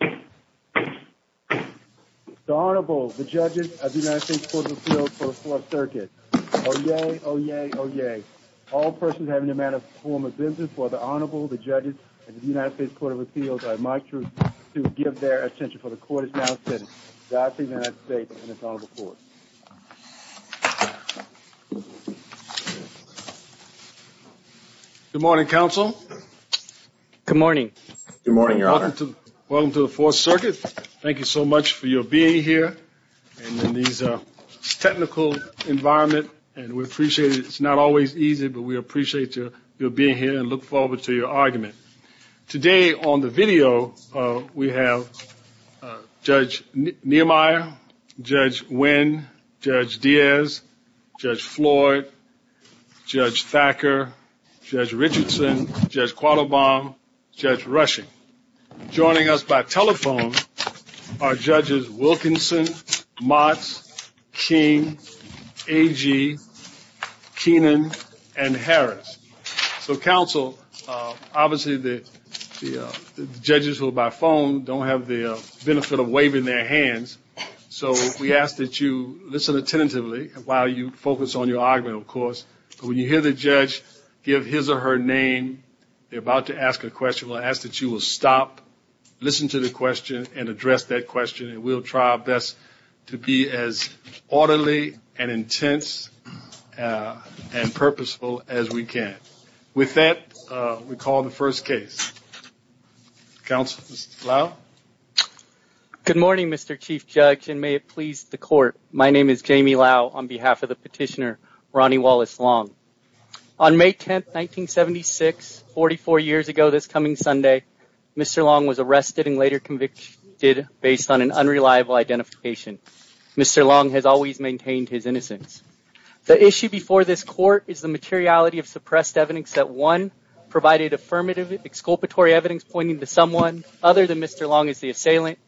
The Honorable, the Judges of the United States Court of Appeals for the Fourth Circuit, Oyez, Oyez, Oyez. All persons having a matter of form of business, for the Honorable, the Judges of the United States Court of Appeals, I'd like to give their attention for the Court is now sitting. The Honorable Court. Good morning, Counsel. Good morning. Good morning, Your Honor. Welcome to the Fourth Circuit. Thank you so much for your being here in these technical environment, and we appreciate it. It's not always easy, but we appreciate your being here and look forward to your argument. Today on the video, we have Judge Nehemiah, Judge Nguyen, Judge Diaz, Judge Floyd, Judge Thacker, Judge Richardson, Judge Quattlebaum, Judge Rushing. Joining us by telephone are Judges Wilkinson, Mott, King, Agee, Keenan, and Harris. So, Counsel, obviously the judges who are by phone don't have the benefit of waving their hands, so we ask that you listen attentively while you focus on your argument, of course. When you hear the judge give his or her name, you're about to ask a question, we'll ask that you will stop, listen to the question, and address that question, and we'll try our best to be as orderly and intense and purposeful as we can. With that, we'll call the first case. Counsel Lau? Good morning, Mr. Chief Judge, and may it please the Court. My name is Jamie Lau on behalf of the petitioner, Ronnie Wallace Long. On May 10, 1976, 44 years ago this coming Sunday, Mr. Long was arrested and later convicted based on an unreliable identification. Mr. Long has always maintained his innocence. The issue before this Court is the materiality of suppressed evidence that, one, provided affirmative exculpatory evidence pointing to someone other than Mr. Long as the assailant,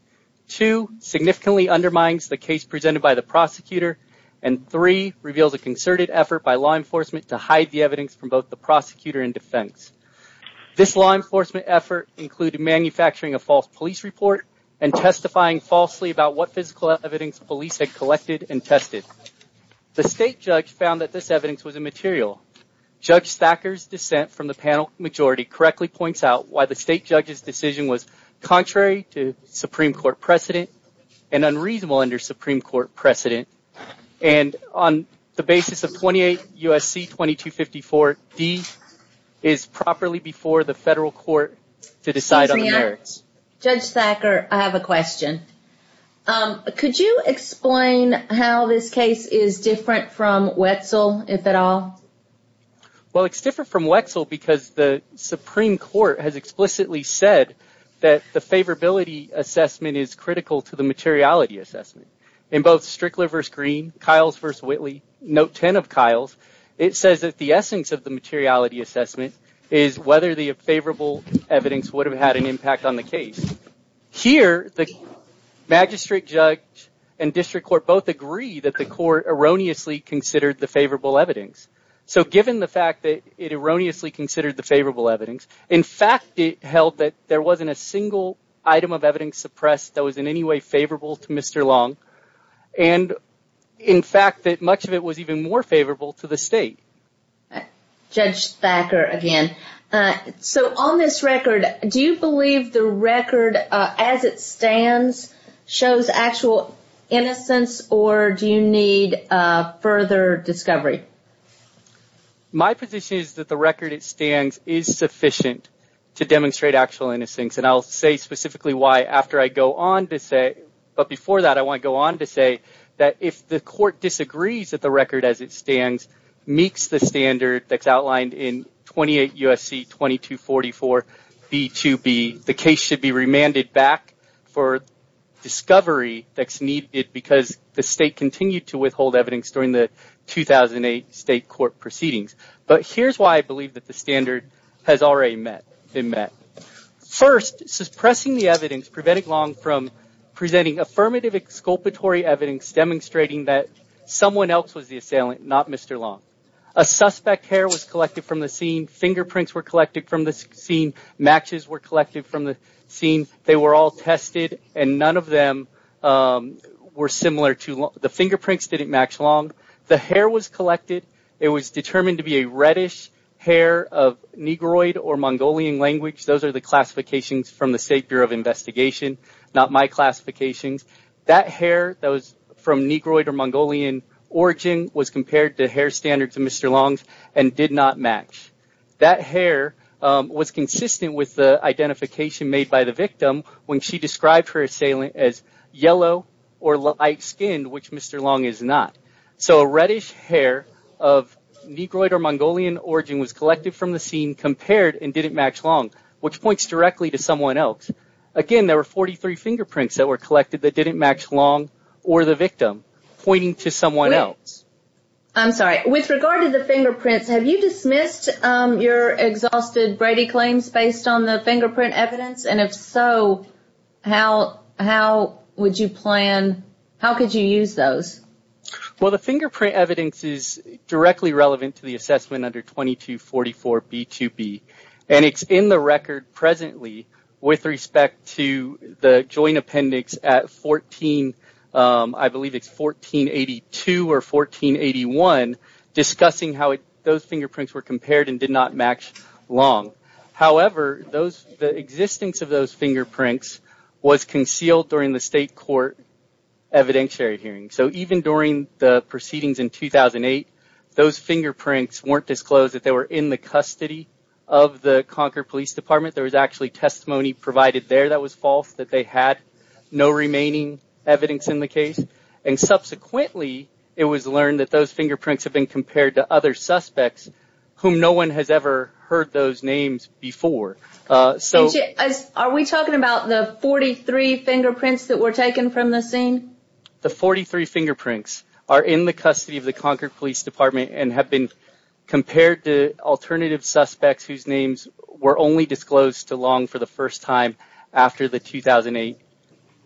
two, significantly undermines the case presented by the prosecutor, and three, reveals a concerted effort by law enforcement to hide the evidence from both the prosecutor and defense. This law enforcement effort included manufacturing a false police report and testifying falsely about what physical evidence police had collected and tested. The state judge found that this evidence was immaterial. Judge Thacker's dissent from the panel majority correctly points out why the state judge's Supreme Court precedent and unreasonable under Supreme Court precedent. And on the basis of 28 U.S.C. 2254, these is properly before the federal court to decide on the merits. Judge Thacker, I have a question. Could you explain how this case is different from Wetzel, if at all? Well, it's different from Wetzel because the Supreme Court has explicitly said that the favorability assessment is critical to the materiality assessment. In both Strickler v. Green, Kiles v. Whitley, note 10 of Kiles, it says that the essence of the materiality assessment is whether the favorable evidence would have had an impact on the case. Here, the magistrate judge and district court both agree that the court erroneously considered the favorable evidence. So given the fact that it erroneously considered the favorable evidence, in fact it held that there wasn't a single item of evidence suppressed that was in any way favorable to Mr. Long, and in fact that much of it was even more favorable to the state. Judge Thacker again, so on this record, do you believe the record as it stands shows actual innocence or do you need further discovery? My position is that the record as it stands is sufficient to demonstrate actual innocence, and I'll say specifically why after I go on to say, but before that I want to go on to say that if the court disagrees that the record as it stands meets the standard that's outlined in 28 U.S.C. 2244 B2B, the case should be remanded back for discovery that's needed because the state continued to withhold evidence during the 2008 state court proceedings. But here's why I believe that the standard has already been met. First, suppressing the evidence prevented Long from presenting affirmative exculpatory evidence demonstrating that someone else was the assailant, not Mr. Long. A suspect's hair was collected from the scene, fingerprints were collected from the scene, matches were collected from the scene. They were all tested and none of them were similar to Long. The fingerprints didn't match Long. The hair was collected. It was determined to be a reddish hair of Negroid or Mongolian language. Those are the classifications from the State Bureau of Investigation, not my classifications. That hair that was from Negroid or Mongolian origin was compared to hair standards of Mr. Long's and did not match. That hair was consistent with the identification made by the victim when she described her assailant as yellow or light-skinned, which Mr. Long is not. So reddish hair of Negroid or Mongolian origin was collected from the scene, compared, and didn't match Long, which points directly to someone else. Again, there were 43 fingerprints that were collected that didn't match Long or the victim, pointing to someone else. I'm sorry. With regard to the fingerprints, have you dismissed your exhausted Brady claims based on the fingerprint evidence? And if so, how would you plan, how could you use those? Well, the fingerprint evidence is directly relevant to the assessment under 2244B2B. And it's in the record presently with respect to the joint appendix at 14, I believe it's 1482 or 1481, discussing how those fingerprints were compared and did not match Long. However, the existence of those fingerprints was concealed during the state court evidentiary hearing. So even during the proceedings in 2008, those fingerprints weren't disclosed that they were in the custody of the Concord Police Department. There was actually testimony provided there that was false, that they had no remaining evidence in the case. And subsequently, it was learned that those fingerprints have been compared to other suspects whom no one has ever heard those names before. Are we talking about the 43 fingerprints that were taken from the scene? The 43 fingerprints are in the custody of the Concord Police Department and have been compared to alternative suspects whose names were only disclosed to Long for the first time after the 2008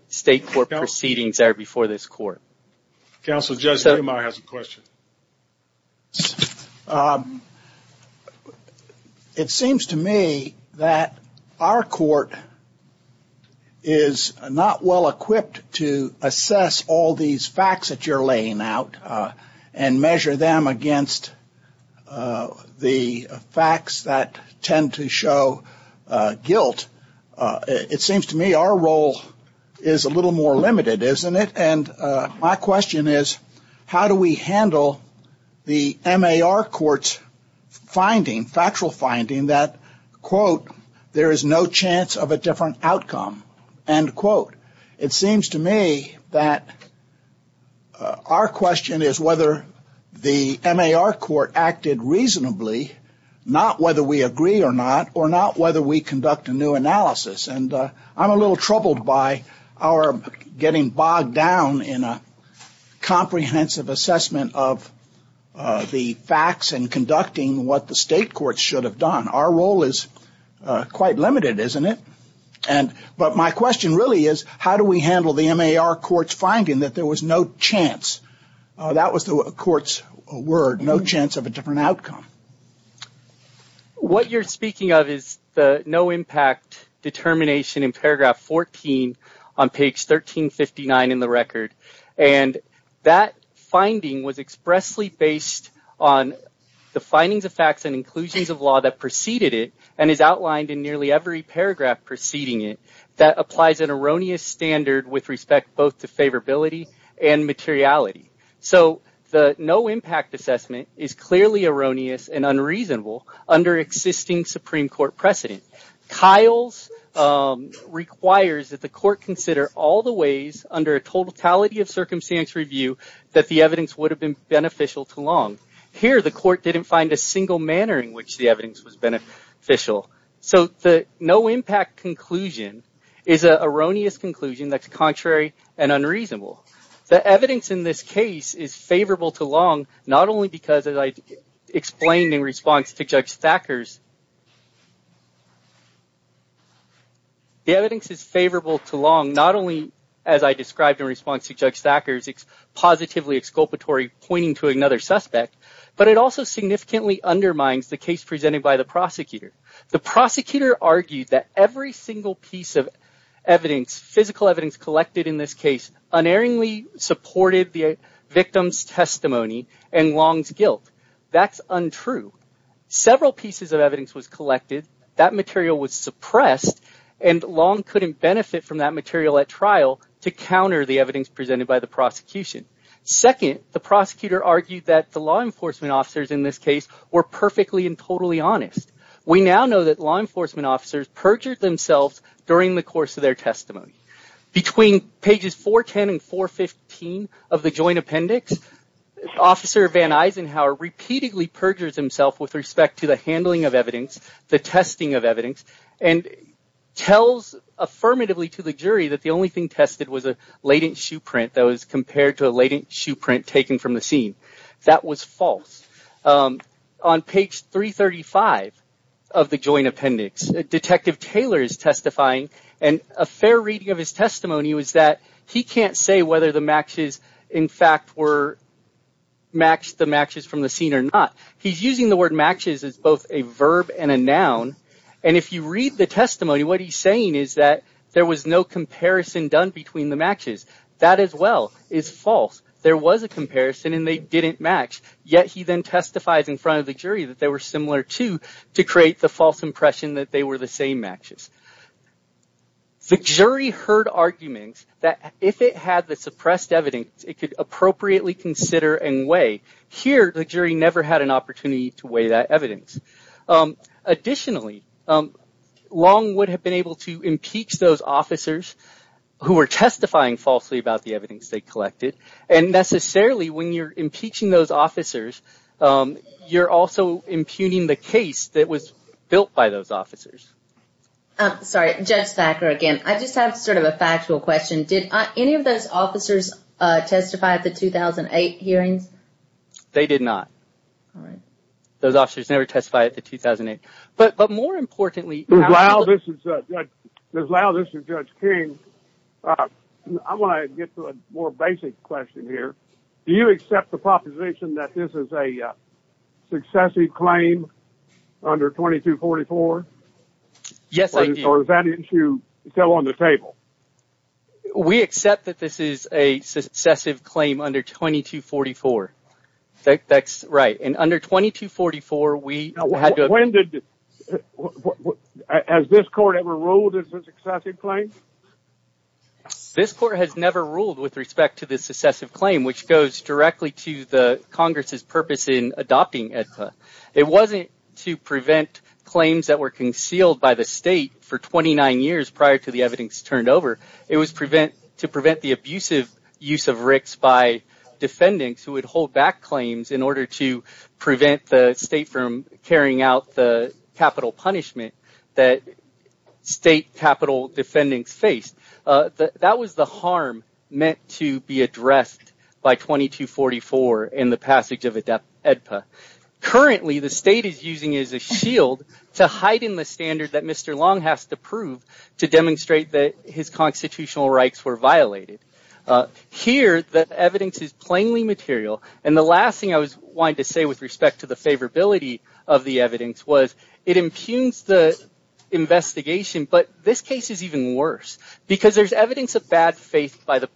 state court proceedings there before this court. Counsel Judge Hamer has a question. It seems to me that our court is not well equipped to assess all these facts that you're guilt. It seems to me our role is a little more limited, isn't it? And my question is, how do we handle the MAR court's finding, factual finding that, quote, there is no chance of a different outcome, end quote. It seems to me that our question is whether the MAR court acted reasonably, not whether we agree or not, or not whether we conduct a new analysis. And I'm a little troubled by our getting bogged down in a comprehensive assessment of the facts and conducting what the state courts should have done. Our role is quite limited, isn't it? And but my question really is, how do we handle the MAR court's finding that there was no chance? That was the court's word, no chance of a different outcome. What you're speaking of is the no impact determination in paragraph 14 on page 1359 in the record. And that finding was expressly based on the findings of facts and inclusions of law that preceded it and is outlined in nearly every paragraph preceding it that applies an erroneous standard with respect both to favorability and materiality. So the no impact assessment is clearly erroneous and unreasonable under existing Supreme Court precedent. Kyle's requires that the court consider all the ways under a totality of circumstance review that the evidence would have been beneficial to Long. Here, the court didn't find a single manner in which the evidence was beneficial. So the no impact conclusion is an erroneous conclusion that's contrary and unreasonable. The evidence in this case is favorable to Long, not only because, as I explained in response to Judge Thacker's, the evidence is favorable to Long, not only as I described in response to Judge Thacker's, it's positively exculpatory pointing to another suspect, but it also significantly undermines the case presented by the prosecutor. The prosecutor argued that every single piece of evidence, physical evidence collected in this case, unerringly supported the victim's testimony and Long's guilt. That's untrue. Several pieces of evidence was collected, that material was suppressed, and Long couldn't benefit from that material at trial to counter the evidence presented by the prosecution. Second, the prosecutor argued that the law enforcement officers in this case were perfectly and totally honest. We now know that law enforcement officers perjured themselves during the course of their testimony. Between pages 410 and 415 of the Joint Appendix, Officer Van Eisenhower repeatedly perjures himself with respect to the handling of evidence, the testing of evidence, and tells affirmatively to the jury that the only thing tested was a latent shoe print that was compared to a latent shoe print taken from the scene. That was false. Um, on page 335 of the Joint Appendix, Detective Taylor is testifying, and a fair reading of his testimony was that he can't say whether the matches, in fact, were matched, the matches from the scene or not. He's using the word matches as both a verb and a noun, and if you read the testimony, what he's saying is that there was no comparison done between the matches. That as well is false. There was a comparison and they didn't match, yet he then testifies in front of the jury that they were similar, too, to create the false impression that they were the same matches. The jury heard arguments that if it had the suppressed evidence, it could appropriately consider and weigh. Here, the jury never had an opportunity to weigh that evidence. Additionally, Long would have been able to impeach those officers who were testifying falsely about the evidence they collected, and necessarily, when you're impeaching those officers, you're also impugning the case that was built by those officers. I'm sorry, Judge Thacker, again. I just have sort of a factual question. Did any of those officers testify at the 2008 hearing? Those officers never testified at the 2008. But more importantly... Ms. Lyle, this is Judge King. I want to get to a more basic question here. Do you accept the proposition that this is a successive claim under 2244? Yes, I do. Or is that issue still on the table? We accept that this is a successive claim under 2244. That's right. And under 2244, we had to... Has this court ever ruled it's a successive claim? This court has never ruled with respect to this successive claim, which goes directly to Congress's purpose in adopting AEDPA. It wasn't to prevent claims that were concealed by the state for 29 years prior to the evidence turned over. It was to prevent the abusive use of RICs by defendants who would hold back claims in capital punishment that state capital defendants faced. That was the harm meant to be addressed by 2244 in the passage of AEDPA. Currently, the state is using it as a shield to hide in the standards that Mr. Long has to prove to demonstrate that his constitutional rights were violated. Here, the evidence is plainly material. And the last thing I wanted to say with respect to the favorability of the evidence was it impugns the investigation. But this case is even worse because there's evidence of bad faith by the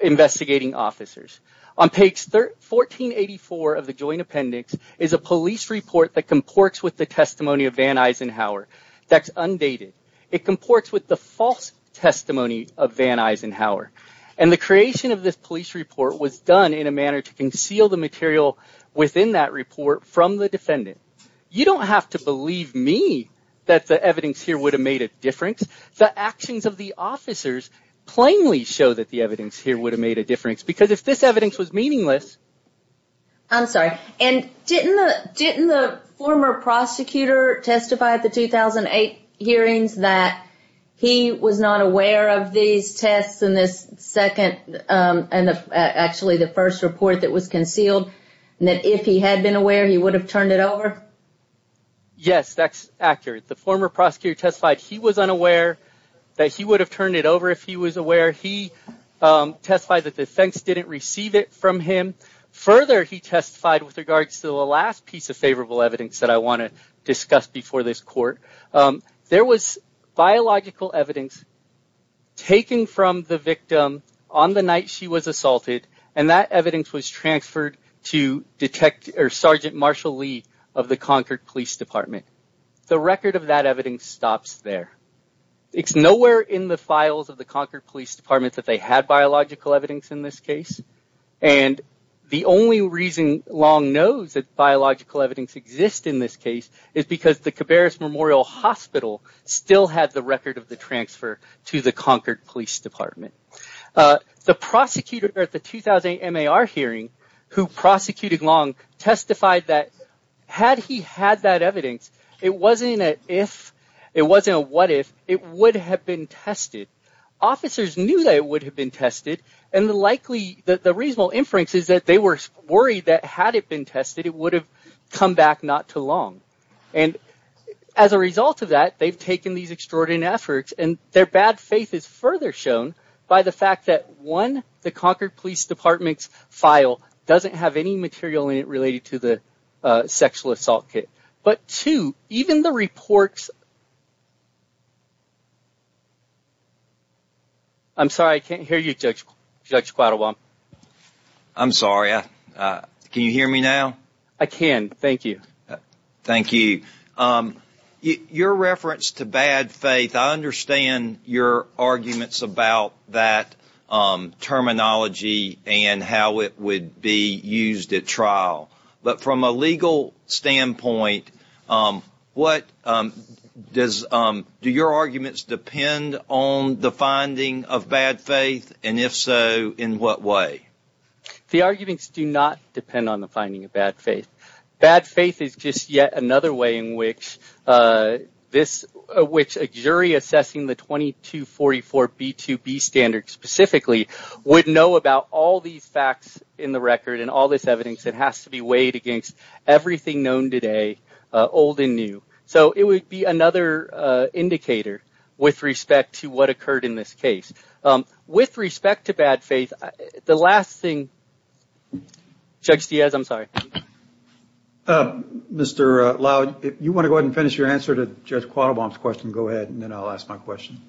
investigating officers. On page 1484 of the joint appendix is a police report that comports with the testimony of Van Eisenhower that's undated. It comports with the false testimony of Van Eisenhower. And the creation of this police report was done in a manner to conceal the material within that report from the defendant. You don't have to believe me that the evidence here would have made a difference. The actions of the officers plainly show that the evidence here would have made a difference because if this evidence was meaningless. I'm sorry. And didn't the former prosecutor testify at the 2008 hearings that he was not aware of these tests in this second and actually the first report that was concealed and that if he had been aware, he would have turned it over? Yes, that's accurate. The former prosecutor testified he was unaware that he would have turned it over if he was aware. He testified that the defense didn't receive it from him. Further, he testified with regards to the last piece of favorable evidence that I want to discuss before this court. There was biological evidence taken from the victim on the night she was assaulted and that evidence was transferred to detect or Sergeant Marshall Lee of the Concord Police Department. The record of that evidence stops there. It's nowhere in the files of the Concord Police Department that they had biological evidence in this case. And the only reason Long knows that biological evidence exists in this case is because the hospital still has the record of the transfer to the Concord Police Department. The prosecutor at the 2008 MAR hearing who prosecuted Long testified that had he had that evidence, it wasn't an if, it wasn't a what if, it would have been tested. Officers knew that it would have been tested. And the reasonable inference is that they were worried that had it been tested, it would have come back not too long. And as a result of that, they've taken these extraordinary efforts and their bad faith is further shown by the fact that one, the Concord Police Department's file doesn't have any material in it related to the sexual assault case. But two, even the reports... I'm sorry, I can't hear you, Judge Quattlebaum. I'm sorry. Can you hear me now? I can, thank you. Thank you. Your reference to bad faith, I understand your arguments about that terminology and how it would be used at trial. But from a legal standpoint, do your arguments depend on the finding of bad faith? And if so, in what way? The arguments do not depend on the finding of bad faith. Bad faith is just yet another way in which a jury assessing the 2244B2B standard specifically would know about all these facts in the record and all this evidence that has to be weighed against everything known today, old and new. So it would be another indicator with respect to what occurred in this case. With respect to bad faith, the last thing... Judge Diaz, I'm sorry. Mr. Lowe, if you want to go ahead and finish your answer to Judge Quattlebaum's question, go ahead, and then I'll ask my question.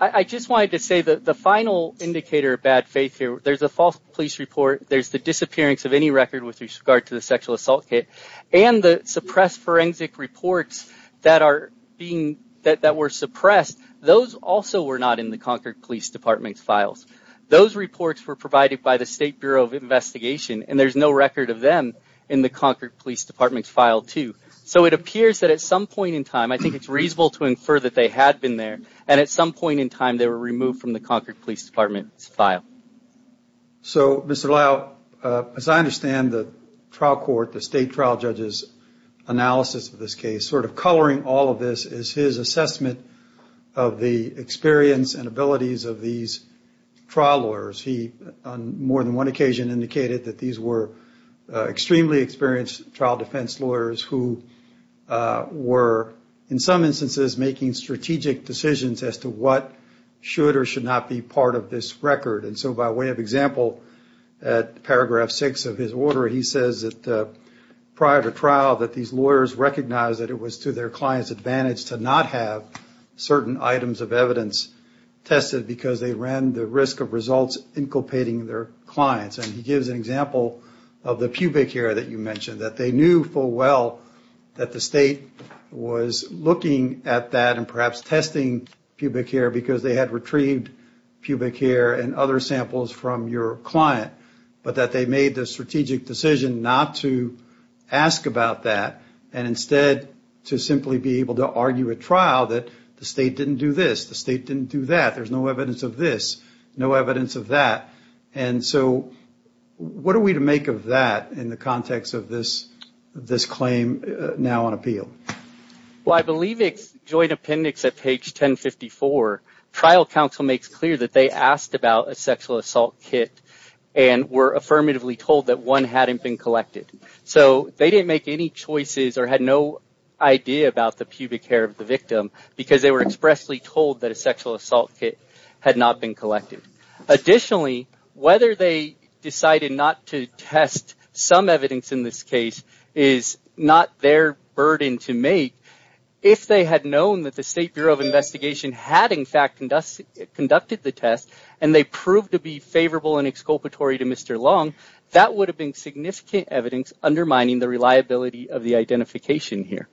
I just wanted to say that the final indicator of bad faith here, there's a false police report, there's the disappearance of any record with regard to the sexual assault case, and the suppressed forensic reports that were suppressed, those also were not in the Concord Police Department's files. Those reports were provided by the State Bureau of Investigation, and there's no record of in the Concord Police Department's file, too. So it appears that at some point in time, I think it's reasonable to infer that they had been there, and at some point in time, they were removed from the Concord Police Department's file. So, Mr. Lowe, as I understand the trial court, the state trial judge's analysis of this case, sort of coloring all of this is his assessment of the experience and abilities of these trial lawyers. He, on more than one occasion, indicated that these were extremely experienced trial defense lawyers who were, in some instances, making strategic decisions as to what should or should not be part of this record. And so by way of example, at paragraph six of his order, he says that prior to trial that these lawyers recognized that it was to their client's advantage to not have certain items of evidence tested because they ran the risk of results inculpating their clients. And he gives an example of the pubic hair that you mentioned, that they knew full well that the state was looking at that and perhaps testing pubic hair because they had retrieved pubic hair and other samples from your client, but that they made the strategic decision not to ask about that and instead to simply be able to argue at trial that the state didn't do this, the state didn't do that, there's no evidence of this, no evidence of that. And so what are we to make of that in the context of this claim now on appeal? Well, I believe it's joint appendix at page 1054. Trial counsel makes clear that they asked about a sexual assault kit and were affirmatively told that one hadn't been collected. So they didn't make any choices or had no idea about the pubic hair of the victim because they were expressly told that a sexual assault kit had not been collected. Additionally, whether they decided not to test some evidence in this case is not their burden to make. If they had known that the State Bureau of Investigation had in fact conducted the test and they proved to be favorable and exculpatory to Mr. Long, that would have been significant evidence undermining the reliability of the identification here.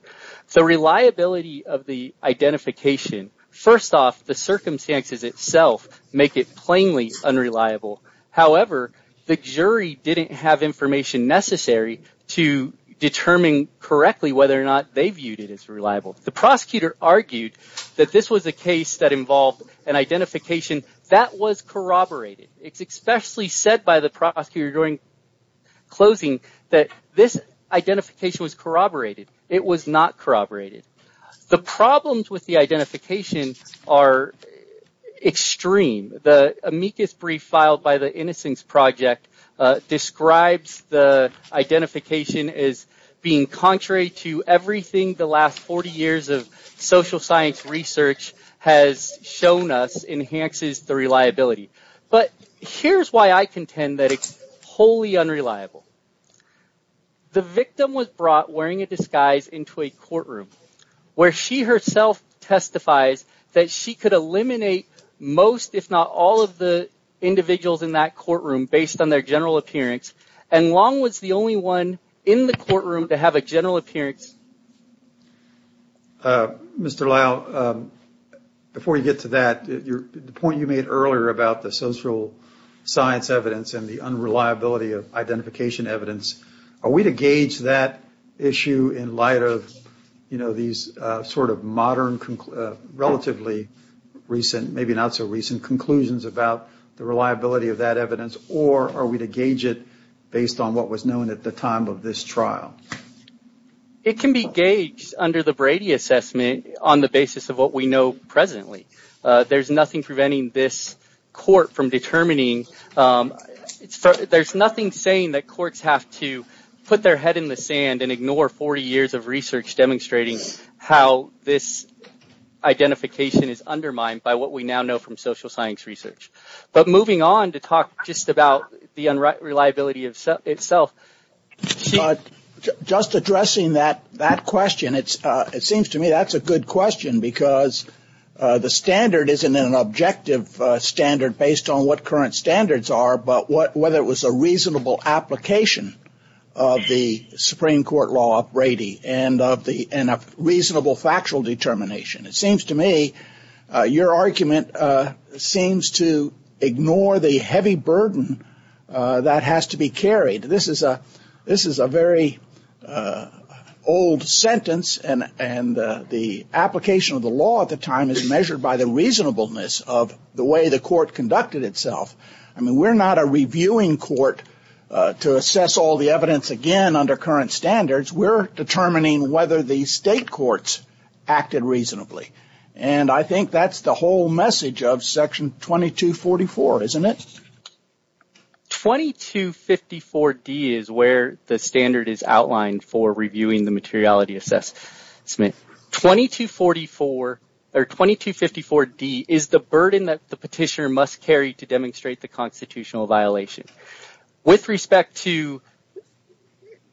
The reliability of the identification, first off, the circumstances itself make it plainly unreliable. However, the jury didn't have information necessary to determine correctly whether or not they viewed it as reliable. The prosecutor argued that this was a case that involved an identification that was corroborated. It's expressly said by the prosecutor during closing that this identification was corroborated. It was not corroborated. The problems with the identification are extreme. The amicus brief filed by the Innocence Project describes the identification as being contrary to everything the last 40 years of social science research has shown us enhances the reliability. But here's why I contend that it's wholly unreliable. The victim was brought wearing a disguise into a courtroom where she herself testifies that she could eliminate most, if not all, of the individuals in that courtroom based on their general appearance. And Long was the only one in the courtroom to have a general appearance. Mr. Lyle, before you get to that, the point you made earlier about the social science evidence and the unreliability of identification evidence, are we to gauge that issue in light of, you know, these sort of modern, relatively recent, maybe not so recent, conclusions about the reliability of that evidence, or are we to gauge it based on what was known at the time of this trial? It can be gauged under the Brady assessment on the basis of what we know presently. There's nothing preventing this court from determining. There's nothing saying that courts have to put their head in the sand and ignore 40 years of research demonstrating how this identification is undermined by what we now know from social science research. But moving on to talk just about the unreliability itself. But just addressing that question, it seems to me that's a good question because the standard isn't an objective standard based on what current standards are, but whether it was a reasonable application of the Supreme Court law of Brady and a reasonable factual determination. It seems to me your argument seems to ignore the heavy burden that has to be carried. This is a very old sentence, and the application of the law at the time is measured by the reasonableness of the way the court conducted itself. I mean, we're not a reviewing court to assess all the evidence again under current standards. We're determining whether the state courts acted reasonably. And I think that's the whole message of Section 2244, isn't it? 2254D is where the standard is outlined for reviewing the materiality assessment. 2244 or 2254D is the burden that the petitioner must carry to demonstrate the constitutional violation. With respect to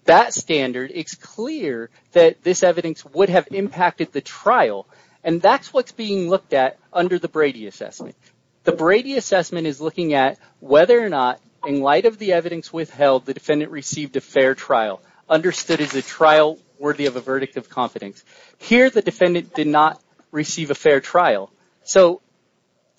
that standard, it's clear that this evidence would have impacted the trial, and that's what's being looked at under the Brady assessment. The Brady assessment is looking at whether or not, in light of the evidence withheld, the defendant received a fair trial, understood as a trial worthy of a verdict of confidence. Here, the defendant did not receive a fair trial. So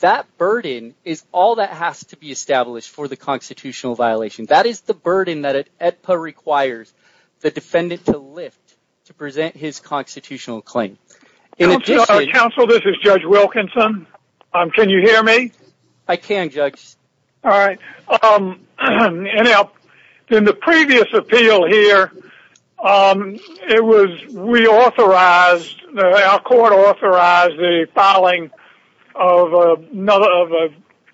that burden is all that has to be established for the constitutional violation. That is the burden that it requires the defendant to lift to present his constitutional claim. Judge Wilkinson, can you hear me? I can, Judge. All right. In the previous appeal here, it was reauthorized, our court authorized the filing of a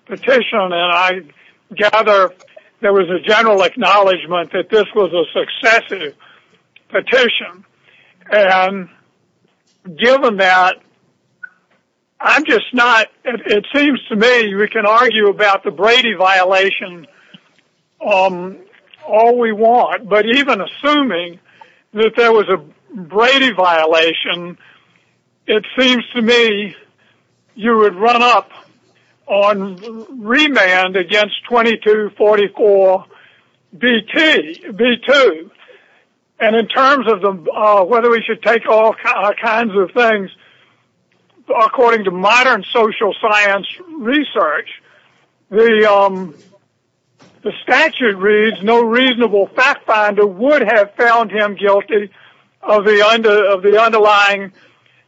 petition, and I gather there was a general acknowledgement that this was a successive petition. And given that, it seems to me we can argue about the Brady violation all we want, but even assuming that there was a Brady violation, it seems to me you would run up on remand against 2244B2. And in terms of whether we should take all kinds of things, according to modern social science research, the statute reads no reasonable fact finder would have found him guilty of the underlying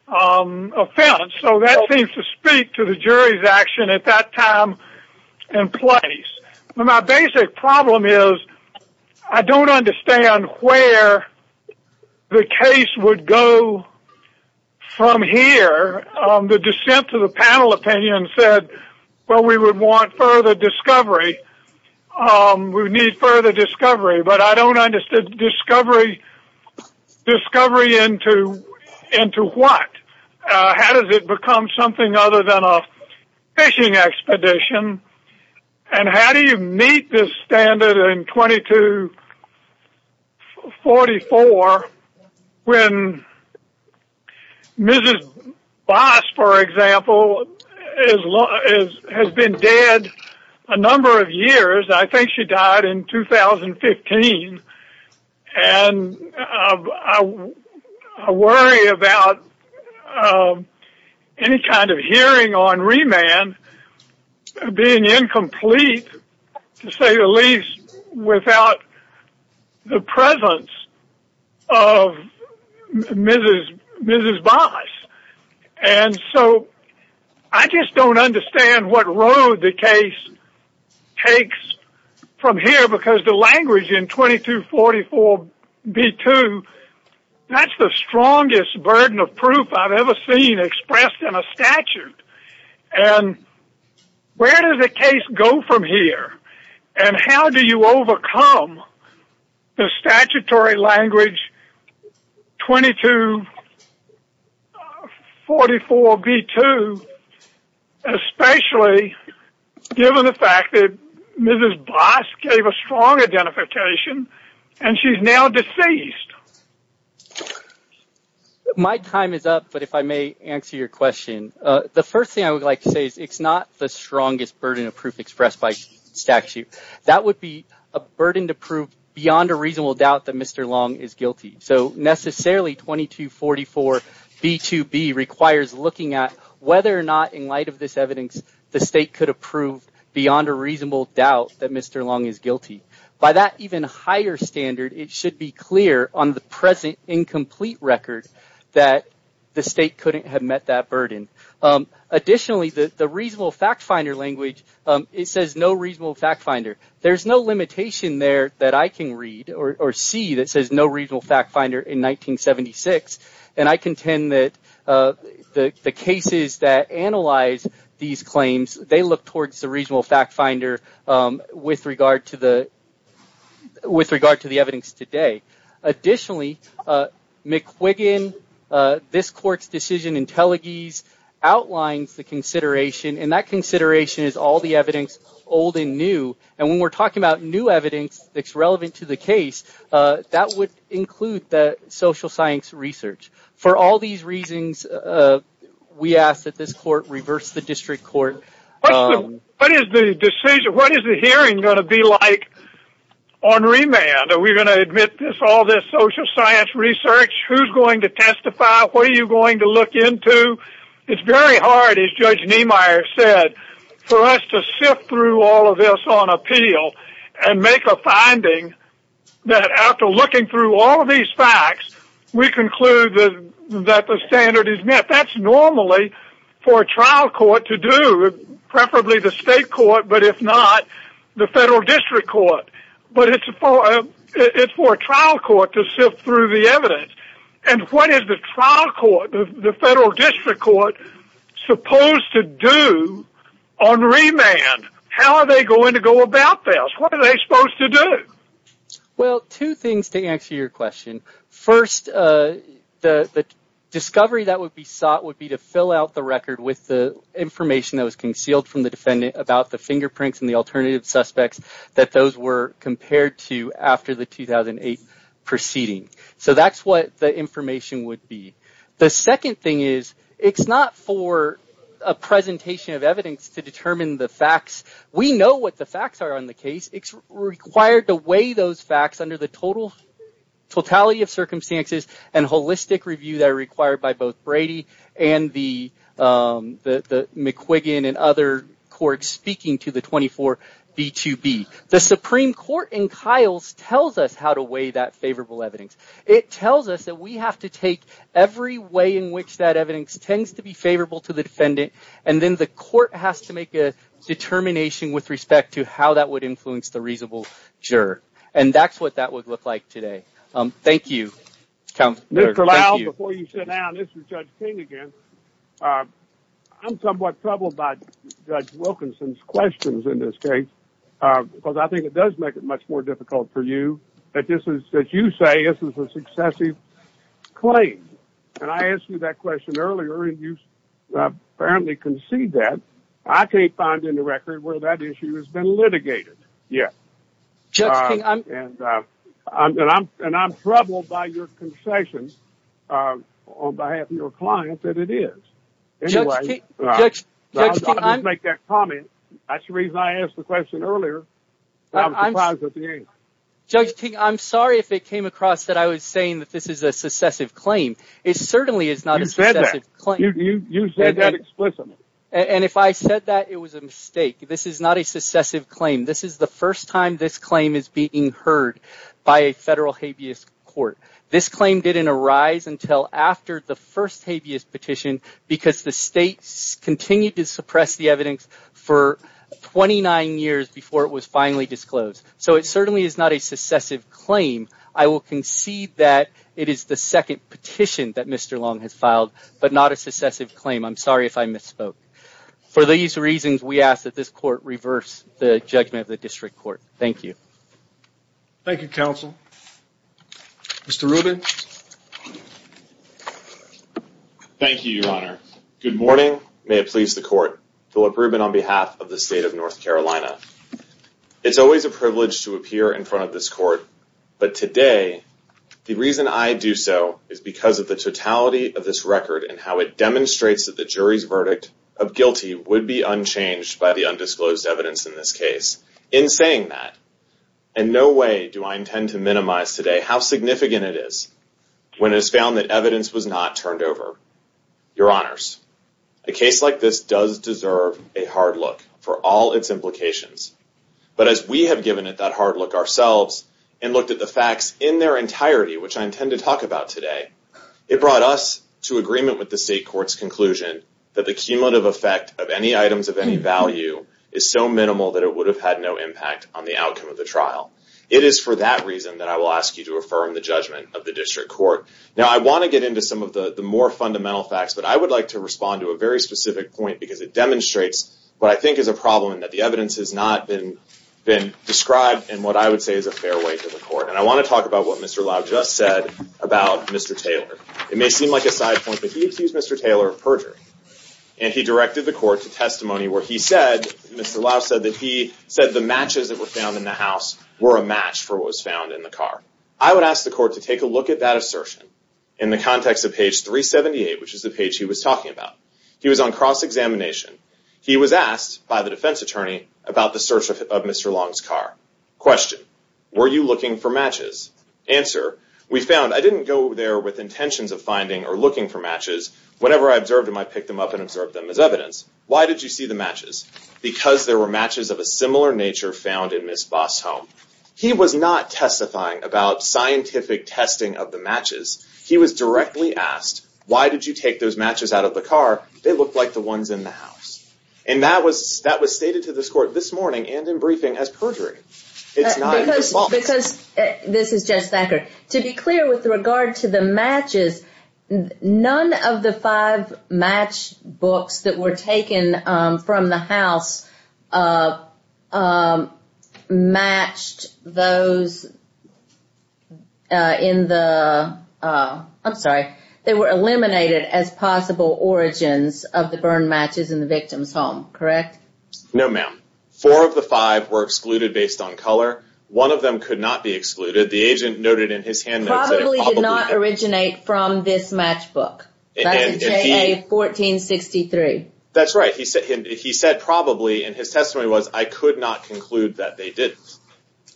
offense. So that seems to speak to the jury's action at that time and place. My basic problem is I don't understand where the case would go from here. The dissent to the panel opinion said, well, we would want further discovery. We need further discovery. But I don't understand discovery into what? How does it become something other than a fishing expedition? And how do you meet this standard in 2244 when Mrs. Boss, for example, has been dead a number of years. I think she died in 2015. And I worry about any kind of hearing on remand being incomplete, to say the least, without the presence of Mrs. Boss. And so I just don't understand what road the case takes from here because the language in 2244B2, that's the strongest burden of proof I've ever seen expressed in a statute. And where does the case go from here? And how do you overcome the statutory language 2244B2, especially given the fact that Mrs. Boss is now deceased? My time is up, but if I may answer your question. The first thing I would like to say is it's not the strongest burden of proof expressed by statute. That would be a burden to prove beyond a reasonable doubt that Mr. Long is guilty. So necessarily 2244B2 requires looking at whether or not, in light of this evidence, the state could approve beyond a reasonable doubt that Mr. Long is guilty. By that even higher standard, it should be clear on the present incomplete record that the state couldn't have met that burden. Additionally, the reasonable fact finder language, it says no reasonable fact finder. There's no limitation there that I can read or see that says no reasonable fact finder in 1976. And I contend that the cases that analyze these claims, they look towards the reasonable fact finder with regard to the evidence today. Additionally, McQuiggan, this court's decision in Telegese outlines the consideration, and that consideration is all the evidence old and new. And when we're talking about new evidence that's relevant to the case, that would include the social science research. For all these reasons, we ask that this court reverse the district court. What is the hearing going to be like on remand? Are we going to admit all this social science research? Who's going to testify? What are you going to look into? It's very hard, as Judge Niemeyer said, for us to sift through all of this on appeal and make a finding that after looking through all of these facts, we conclude that the standard is met. That's normally for a trial court to do, preferably the state court, but if not, the federal district court. But it's for a trial court to sift through the evidence. And what is the trial court, the federal district court, supposed to do on remand? How are they going to go about this? What are they supposed to do? Well, two things to answer your question. First, the discovery that would be sought would be to fill out the record with the information that was concealed from the defendant about the fingerprints and the alternative suspects that those were compared to after the 2008 proceeding. So that's what the information would be. The second thing is, it's not for a presentation of evidence to determine the facts. We know what the facts are on the case. It's required to weigh those facts under the totality of circumstances and holistic review that are required by both Brady and the McQuiggan and other courts speaking to the 24B2B. The Supreme Court in Kyles tells us how to weigh that favorable evidence. It tells us that we have to take every way in which that evidence tends to be favorable to the defendant, and then the court has to make a determination with respect to how that would influence the reasonable juror. And that's what that would look like today. Thank you, counsel. Mr. Lyle, before you sit down, this is Judge King again. I'm somewhat troubled by Judge Wilkinson's questions in this case, because I think it does make it much more difficult for you that this is, that you say, this is a successive claim. And I asked you that question earlier, and you apparently concede that. I can't find in the record where that issue has been litigated yet. Judge King, I'm— And I'm troubled by your concessions on behalf of your client that it is. Anyway— Judge King, Judge King, I'm— I'm going to make that comment. That's the reason I asked the question earlier. I'm surprised at the answer. Judge King, I'm sorry if it came across that I was saying that this is a successive claim. It certainly is not a successive claim. You said that. You said that explicitly. And if I said that, it was a mistake. This is not a successive claim. This is the first time this claim is being heard by a federal habeas court. This claim didn't arise until after the first habeas petition, because the state continued to suppress the evidence for 29 years before it was finally disclosed. So it certainly is not a successive claim. I will concede that it is the second petition that Mr. Long has filed, but not a successive claim. I'm sorry if I misspoke. For these reasons, we ask that this court reverse the judgment of the district court. Thank you. Thank you, counsel. Mr. Rubin? Thank you, Your Honor. Good morning. May it please the court. Philip Rubin on behalf of the state of North Carolina. It's always a privilege to appear in front of this court, but today, the reason I do so is because of the totality of this record and how it demonstrates that the jury's verdict of guilty would be unchanged by the undisclosed evidence in this case. In saying that, and no way do I intend to minimize today how significant it is when it is found that evidence was not turned over. Your Honors, a case like this does deserve a hard look for all its implications. But as we have given it that hard look ourselves and looked at the facts in their entirety, which I intend to talk about today, it brought us to agreement with the state court's conclusion that the cumulative effect of any items of any value is so minimal that it would have had no impact on the outcome of the trial. It is for that reason that I will ask you to affirm the judgment of the district court. Now, I want to get into some of the more fundamental facts, but I would like to respond to a very specific point because it demonstrates what I think is a problem and that the evidence has not been described in what I would say is a fair way to the court. And I want to talk about what Mr. Lau just said about Mr. Taylor. It may seem like a side point, but he accused Mr. Taylor of perjury. And he directed the court to testimony where he said, Mr. Lau said that he said the matches that were found in the house were a match for what was found in the car. I would ask the court to take a look at that assertion in the context of page 378, which is the page he was talking about. He was on cross-examination. He was asked by the defense attorney about the search of Mr. Long's car. Question, were you looking for matches? Answer, we found, I didn't go there with intentions of finding or looking for matches. Whenever I observed them, I picked them up and observed them as evidence. Why did you see the matches? Because there were matches of a similar nature found in Ms. Bott's home. He was not testifying about scientific testing of the matches. He was directly asked, why did you take those matches out of the car? They looked like the ones in the house. And that was, that was stated to this court this morning and in briefing as perjury. Because, this is Jess Thacker. To be clear with regard to the matches, none of the five match books that were taken from the house matched those in the, I'm sorry, they were eliminated as possible origins of the burned matches in the victim's home, correct? No, ma'am. Four of the five were excluded based on color. One of them could not be excluded. The agent noted in his hand that it probably did not originate from this match book. That is KA-1463. That's right. He said probably, and his testimony was, I could not conclude that they did.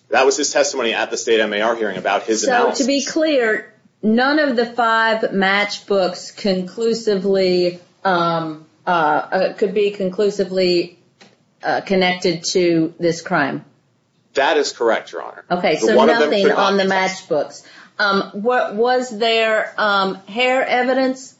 That was his testimony at the state MAR hearing about his analysis. To be clear, none of the five match books conclusively, could be conclusively connected to this crime? That is correct, Your Honor. Okay, so nothing on the match book. Was there hair evidence?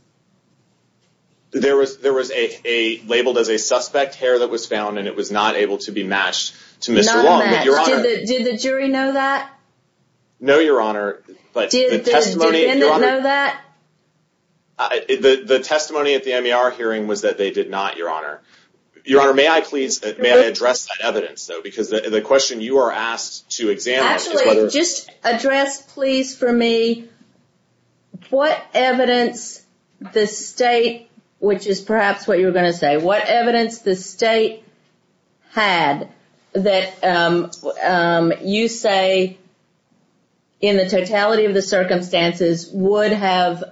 There was a, labeled as a suspect hair that was found, and it was not able to be matched to Mr. Long, Your Honor. Did the jury know that? No, Your Honor, but the testimony- Did they know that? The testimony at the MAR hearing was that they did not, Your Honor. Your Honor, may I please, may I address that evidence, though? Because the question you are asked to examine- Actually, just address, please, for me, what evidence the state, which is perhaps what you were going to say, what evidence the state had that you say, in the totality of the circumstances, would have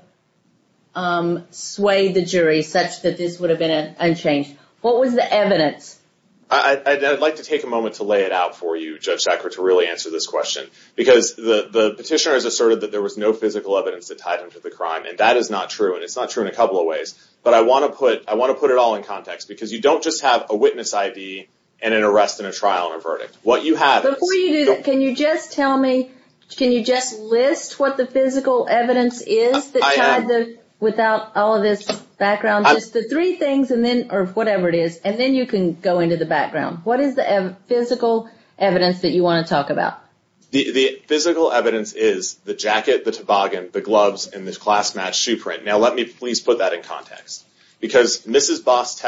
swayed the jury such that this would have been unchanged? What was the evidence? I'd like to take a moment to lay it out for you, Judge Jackford, to really answer this question. Because the petitioner has asserted that there was no physical evidence that ties into the crime, and that is not true, and it's not true in a couple of ways. But I want to put it all in context, because you don't just have a witness ID and an arrest and a trial and a verdict. What you have- Before you do that, can you just tell me, can you just list what the physical evidence is that tied this, without all of this background, just the three things and then, or whatever it is, and then you can go into the background. What is the physical evidence that you want to talk about? The physical evidence is the jacket, the toboggan, the gloves, and this class-matched shoe print. Now, let me please put that in context. Because Mrs. Boss,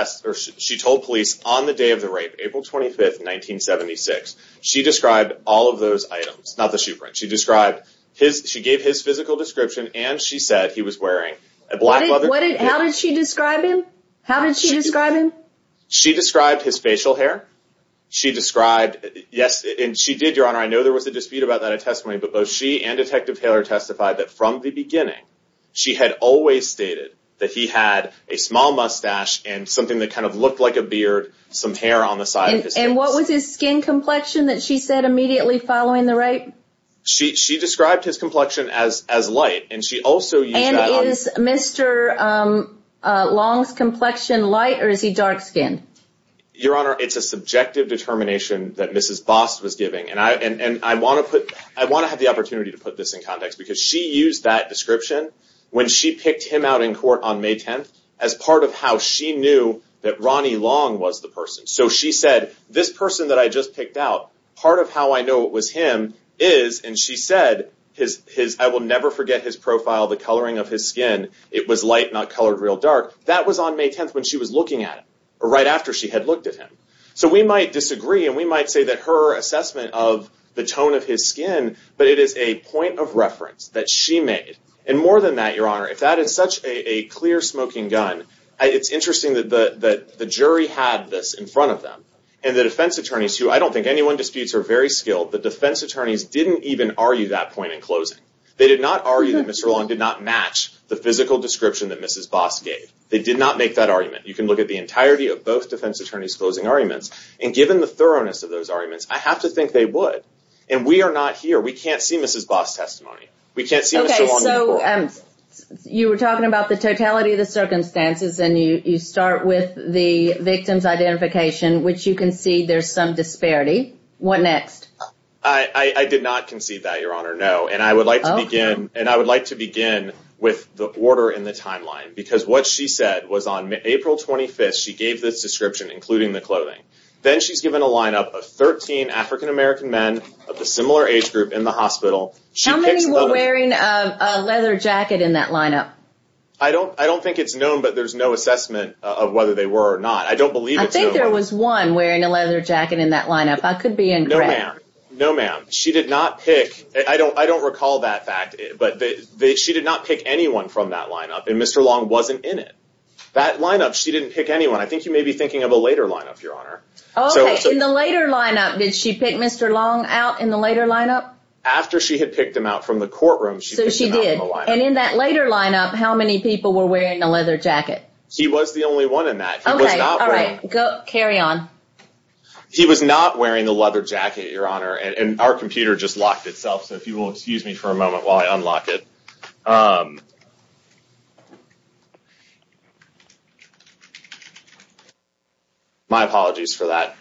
she told police on the day of the rape, April 25th, 1976, she described all of those items, not the shoe print. She described, she gave his physical description, and she said he was wearing a black leather- What did, how did she describe him? How did she describe him? She described his facial hair. She described, yes, and she did, Your Honor, I know there was a dispute about that at testimony, but both she and Detective Taylor testified that from the beginning, she had always stated that he had a small mustache and something that kind of looked like a beard, some hair on the side- And what was his skin complexion that she said immediately following the rape? She described his complexion as light, and she also- And is Mr. Long's complexion light, or is he dark-skinned? Your Honor, it's a subjective determination that Mrs. Boss was giving, and I want to put, I want to have the opportunity to put this in context, because she used that description when she picked him out in court on May 10th as part of how she knew that Ronnie Long was the person. So she said, this person that I just picked out, part of how I know it was him is, and she said, I will never forget his profile, the coloring of his skin, it was light, not colored real dark. That was on May 10th when she was looking at him, or right after she had looked at him. So we might disagree, and we might say that her assessment of the tone of his skin, but it is a point of reference that she made. And more than that, Your Honor, if that is such a clear smoking gun, it's interesting that the jury had this in front of them. And the defense attorneys, who I don't think anyone disputes are very skilled, the defense attorneys didn't even argue that point in closing. They did not argue that Mr. Long did not match the physical description that Mrs. Boss gave. They did not make that argument. You can look at the entirety of both defense attorneys' closing arguments, and given the thoroughness of those arguments, I have to think they would. And we are not here. We can't see Mrs. Boss' testimony. We can't see Mr. Long's. Okay, so you were talking about the totality of the circumstances, and you start with the victim's identification, which you concede there's some disparity. What next? I did not concede that, Your Honor, no. And I would like to begin with the order in the timeline. Because what she said was on April 25th, she gave this description, including the clothing. Then she's given a lineup of 13 African American men of a similar age group in the hospital. How many were wearing a leather jacket in that lineup? I don't think it's known, but there's no assessment of whether they were or not. I don't believe it's known. I think there was one wearing a leather jacket in that lineup. I could be incorrect. No, ma'am. No, ma'am. She did not pick, I don't recall that fact, but she did not pick anyone from that lineup. And Mr. Long wasn't in it. That lineup, she didn't pick anyone. I think you may be thinking of a later lineup, Your Honor. Okay, in the later lineup, did she pick Mr. Long out in the later lineup? After she had picked him out from the courtroom, she picked him out in the lineup. And in that later lineup, how many people were wearing the leather jacket? He was the only one in that. Okay, all right, carry on. He was not wearing the leather jacket, Your Honor. And our computer just locked itself, so if you will excuse me for a moment while I unlock it. My apologies for that.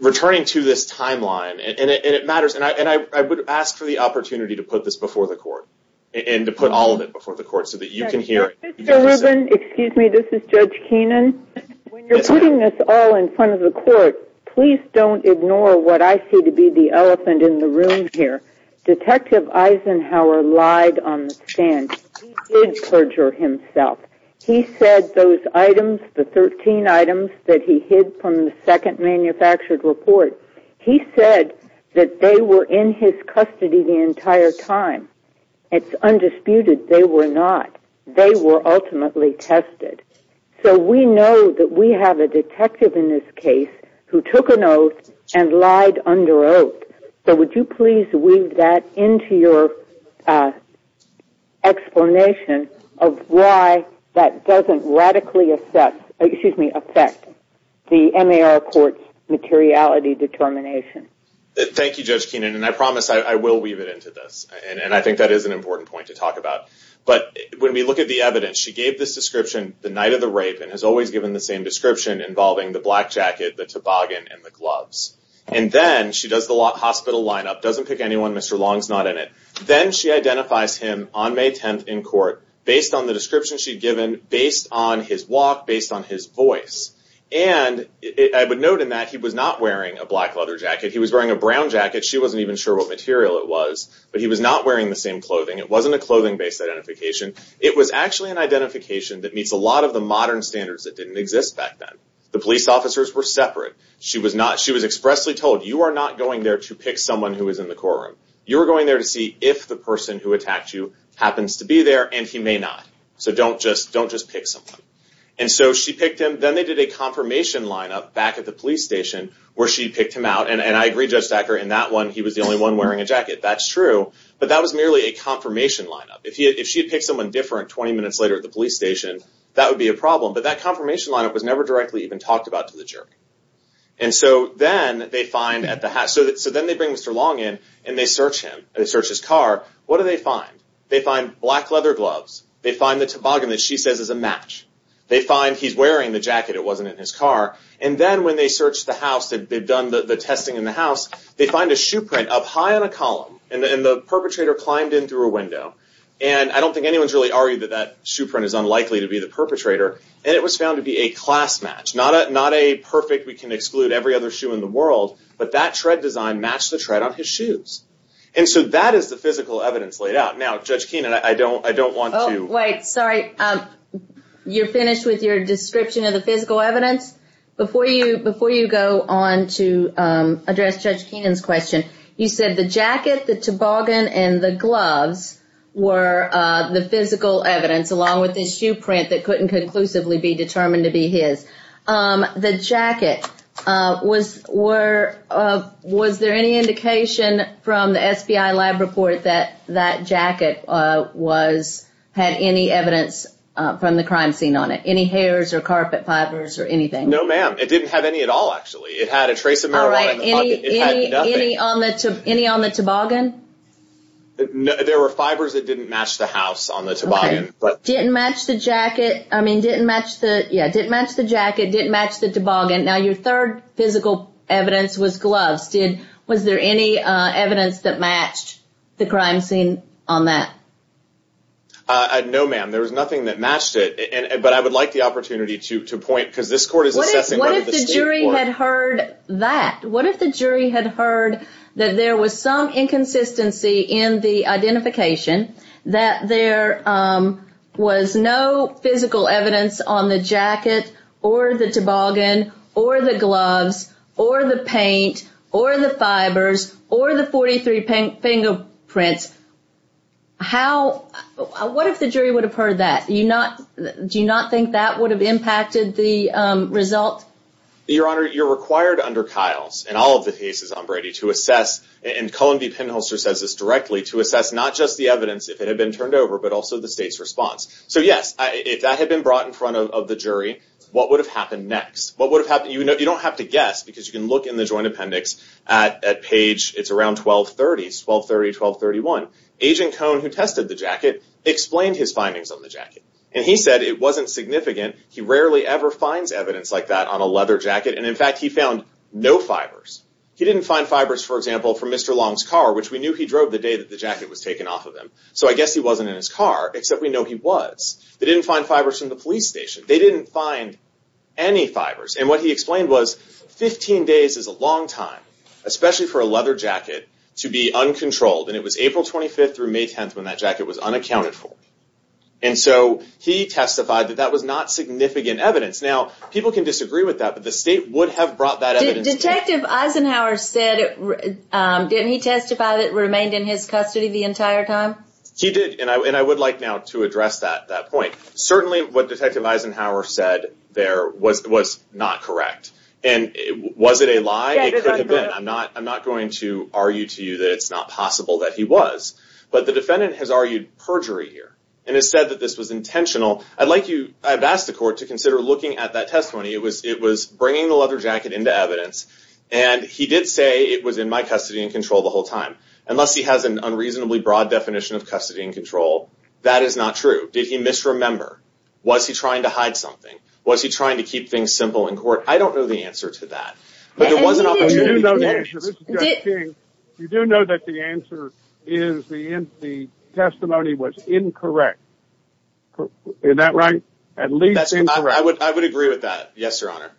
Returning to this timeline, and it matters, and I would ask for the opportunity to put this before the court, and to put all of it before the court, so that you can hear. Mr. Rubin, excuse me, this is Judge Keenan. When you're putting this all in front of the court, please don't ignore what I see to be the elephant in the room here. Detective Eisenhower lied on the stand. He did perjure himself. He said those items, the 13 items that he hid from the second manufactured report, he said that they were in his custody the entire time. It's undisputed they were not. They were ultimately tested. So we know that we have a detective in this case who took an oath and lied under oath. So would you please weave that into your explanation of why that doesn't radically affect the MAR Court's materiality determination? Thank you, Judge Keenan, and I promise I will weave it into this, and I think that is an important point to talk about. But when we look at the evidence, she gave this description the night of the rape, and has always given the same description involving the black jacket, the toboggan, and the gloves. And then she does the hospital lineup, doesn't pick anyone, Mr. Long's not in it. Then she identifies him on May 10th in court based on the description she'd given, based on his walk, based on his voice. And I would note in that he was not wearing a black leather jacket. He was wearing a brown jacket. She wasn't even sure what material it was. But he was not wearing the same clothing. It wasn't a clothing-based identification. It was actually an identification that meets a lot of the modern standards that didn't exist back then. The police officers were separate. She was expressly told, you are not going there to pick someone who is in the courtroom. You are going there to see if the person who attacked you happens to be there, and he may not. So don't just pick someone. And so she picked him. Then they did a confirmation lineup back at the police station where she picked him out. And I agree, Judge Sacker, in that one, he was the only one wearing a jacket. That's true. But that was merely a confirmation lineup. If she picked someone different 20 minutes later at the police station, that would be a problem. But that confirmation lineup was never directly even talked about to the jury. And so then they bring Mr. Long in, and they search his car. What do they find? They find black leather gloves. They find the toboggan that she says is a match. They find he's wearing the jacket. It wasn't in his car. And then when they search the house, they've done the testing in the house, they find a shoe print up high on a column, and the perpetrator climbed in through a window. And I don't think anyone's really argued that that shoe print is unlikely to be the perpetrator. And it was found to be a class match. Not a perfect, we can exclude every other shoe in the world, but that tread design matched the tread on his shoes. And so that is the physical evidence laid out. Now, Judge Keenan, I don't want to- Wait, sorry. You're finished with your description of the physical evidence? Before you go on to address Judge Keenan's question, you said the jacket, the toboggan, and the gloves were the physical evidence, along with his shoe print that couldn't conclusively be determined to be his. The jacket, was there any indication from the SBI lab report that that jacket had any evidence from the crime scene on it? Any hairs or carpet fibers or anything? No, ma'am. It didn't have any at all, actually. It had a trace of marijuana- All right, any on the toboggan? There were fibers that didn't match the house on the toboggan. Didn't match the jacket, I mean, didn't match the- Yeah, didn't match the jacket, didn't match the toboggan. Now, your third physical evidence was gloves. Was there any evidence that matched the crime scene on that? No, ma'am. There was nothing that matched it, but I would like the opportunity to point- What if the jury had heard that? What if the jury had heard that there was some inconsistency in the identification that there was no physical evidence on the jacket, or the toboggan, or the gloves, or the paint, or the fibers, or the 43 fingerprint? What if the jury would have heard that? Do you not think that would have impacted the results? Your Honor, you're required under Kyle's and all of the cases on Brady to assess, and Colin B. Penholster says this directly, to assess not just the evidence, if it had been turned over, but also the state's response. So yes, if that had been brought in front of the jury, what would have happened next? What would have happened? You don't have to guess, because you can look in the joint appendix at page, it's around 1230, 1230, 1231. Agent Cohn, who tested the jacket, explained his findings on the jacket. And he said it wasn't significant. He rarely ever finds evidence like that on a leather jacket. And in fact, he found no fibers. He didn't find fibers, for example, from Mr. Long's car, which we knew he drove the day that the jacket was taken off of him. So I guess he wasn't in his car, except we know he was. They didn't find fibers from the police station. They didn't find any fibers. And what he explained was, 15 days is a long time, especially for a leather jacket to be uncontrolled. And it was April 25th through May 10th when that jacket was unaccounted for. And so he testified that that was not significant evidence. Now, people can disagree with that, but the state would have brought that evidence. Detective Eisenhower said it. Didn't he testify that it remained in his custody the entire time? He did. And I would like now to address that point. Certainly, what Detective Eisenhower said there was not correct. And was it a lie? It could have been. I'm not going to argue to you that it's not possible that he was. But the defendant has argued perjury here. And has said that this was intentional. I'd like you, I've asked the court to consider looking at that testimony. It was bringing the leather jacket into evidence. And he did say it was in my custody and control the whole time. Unless he has an unreasonably broad definition of custody and control, that is not true. Did he misremember? Was he trying to hide something? Was he trying to keep things simple in court? I don't know the answer to that. You do know that the answer is the testimony was incorrect. Is that right? At least I would agree with that. Yes, Your Honor.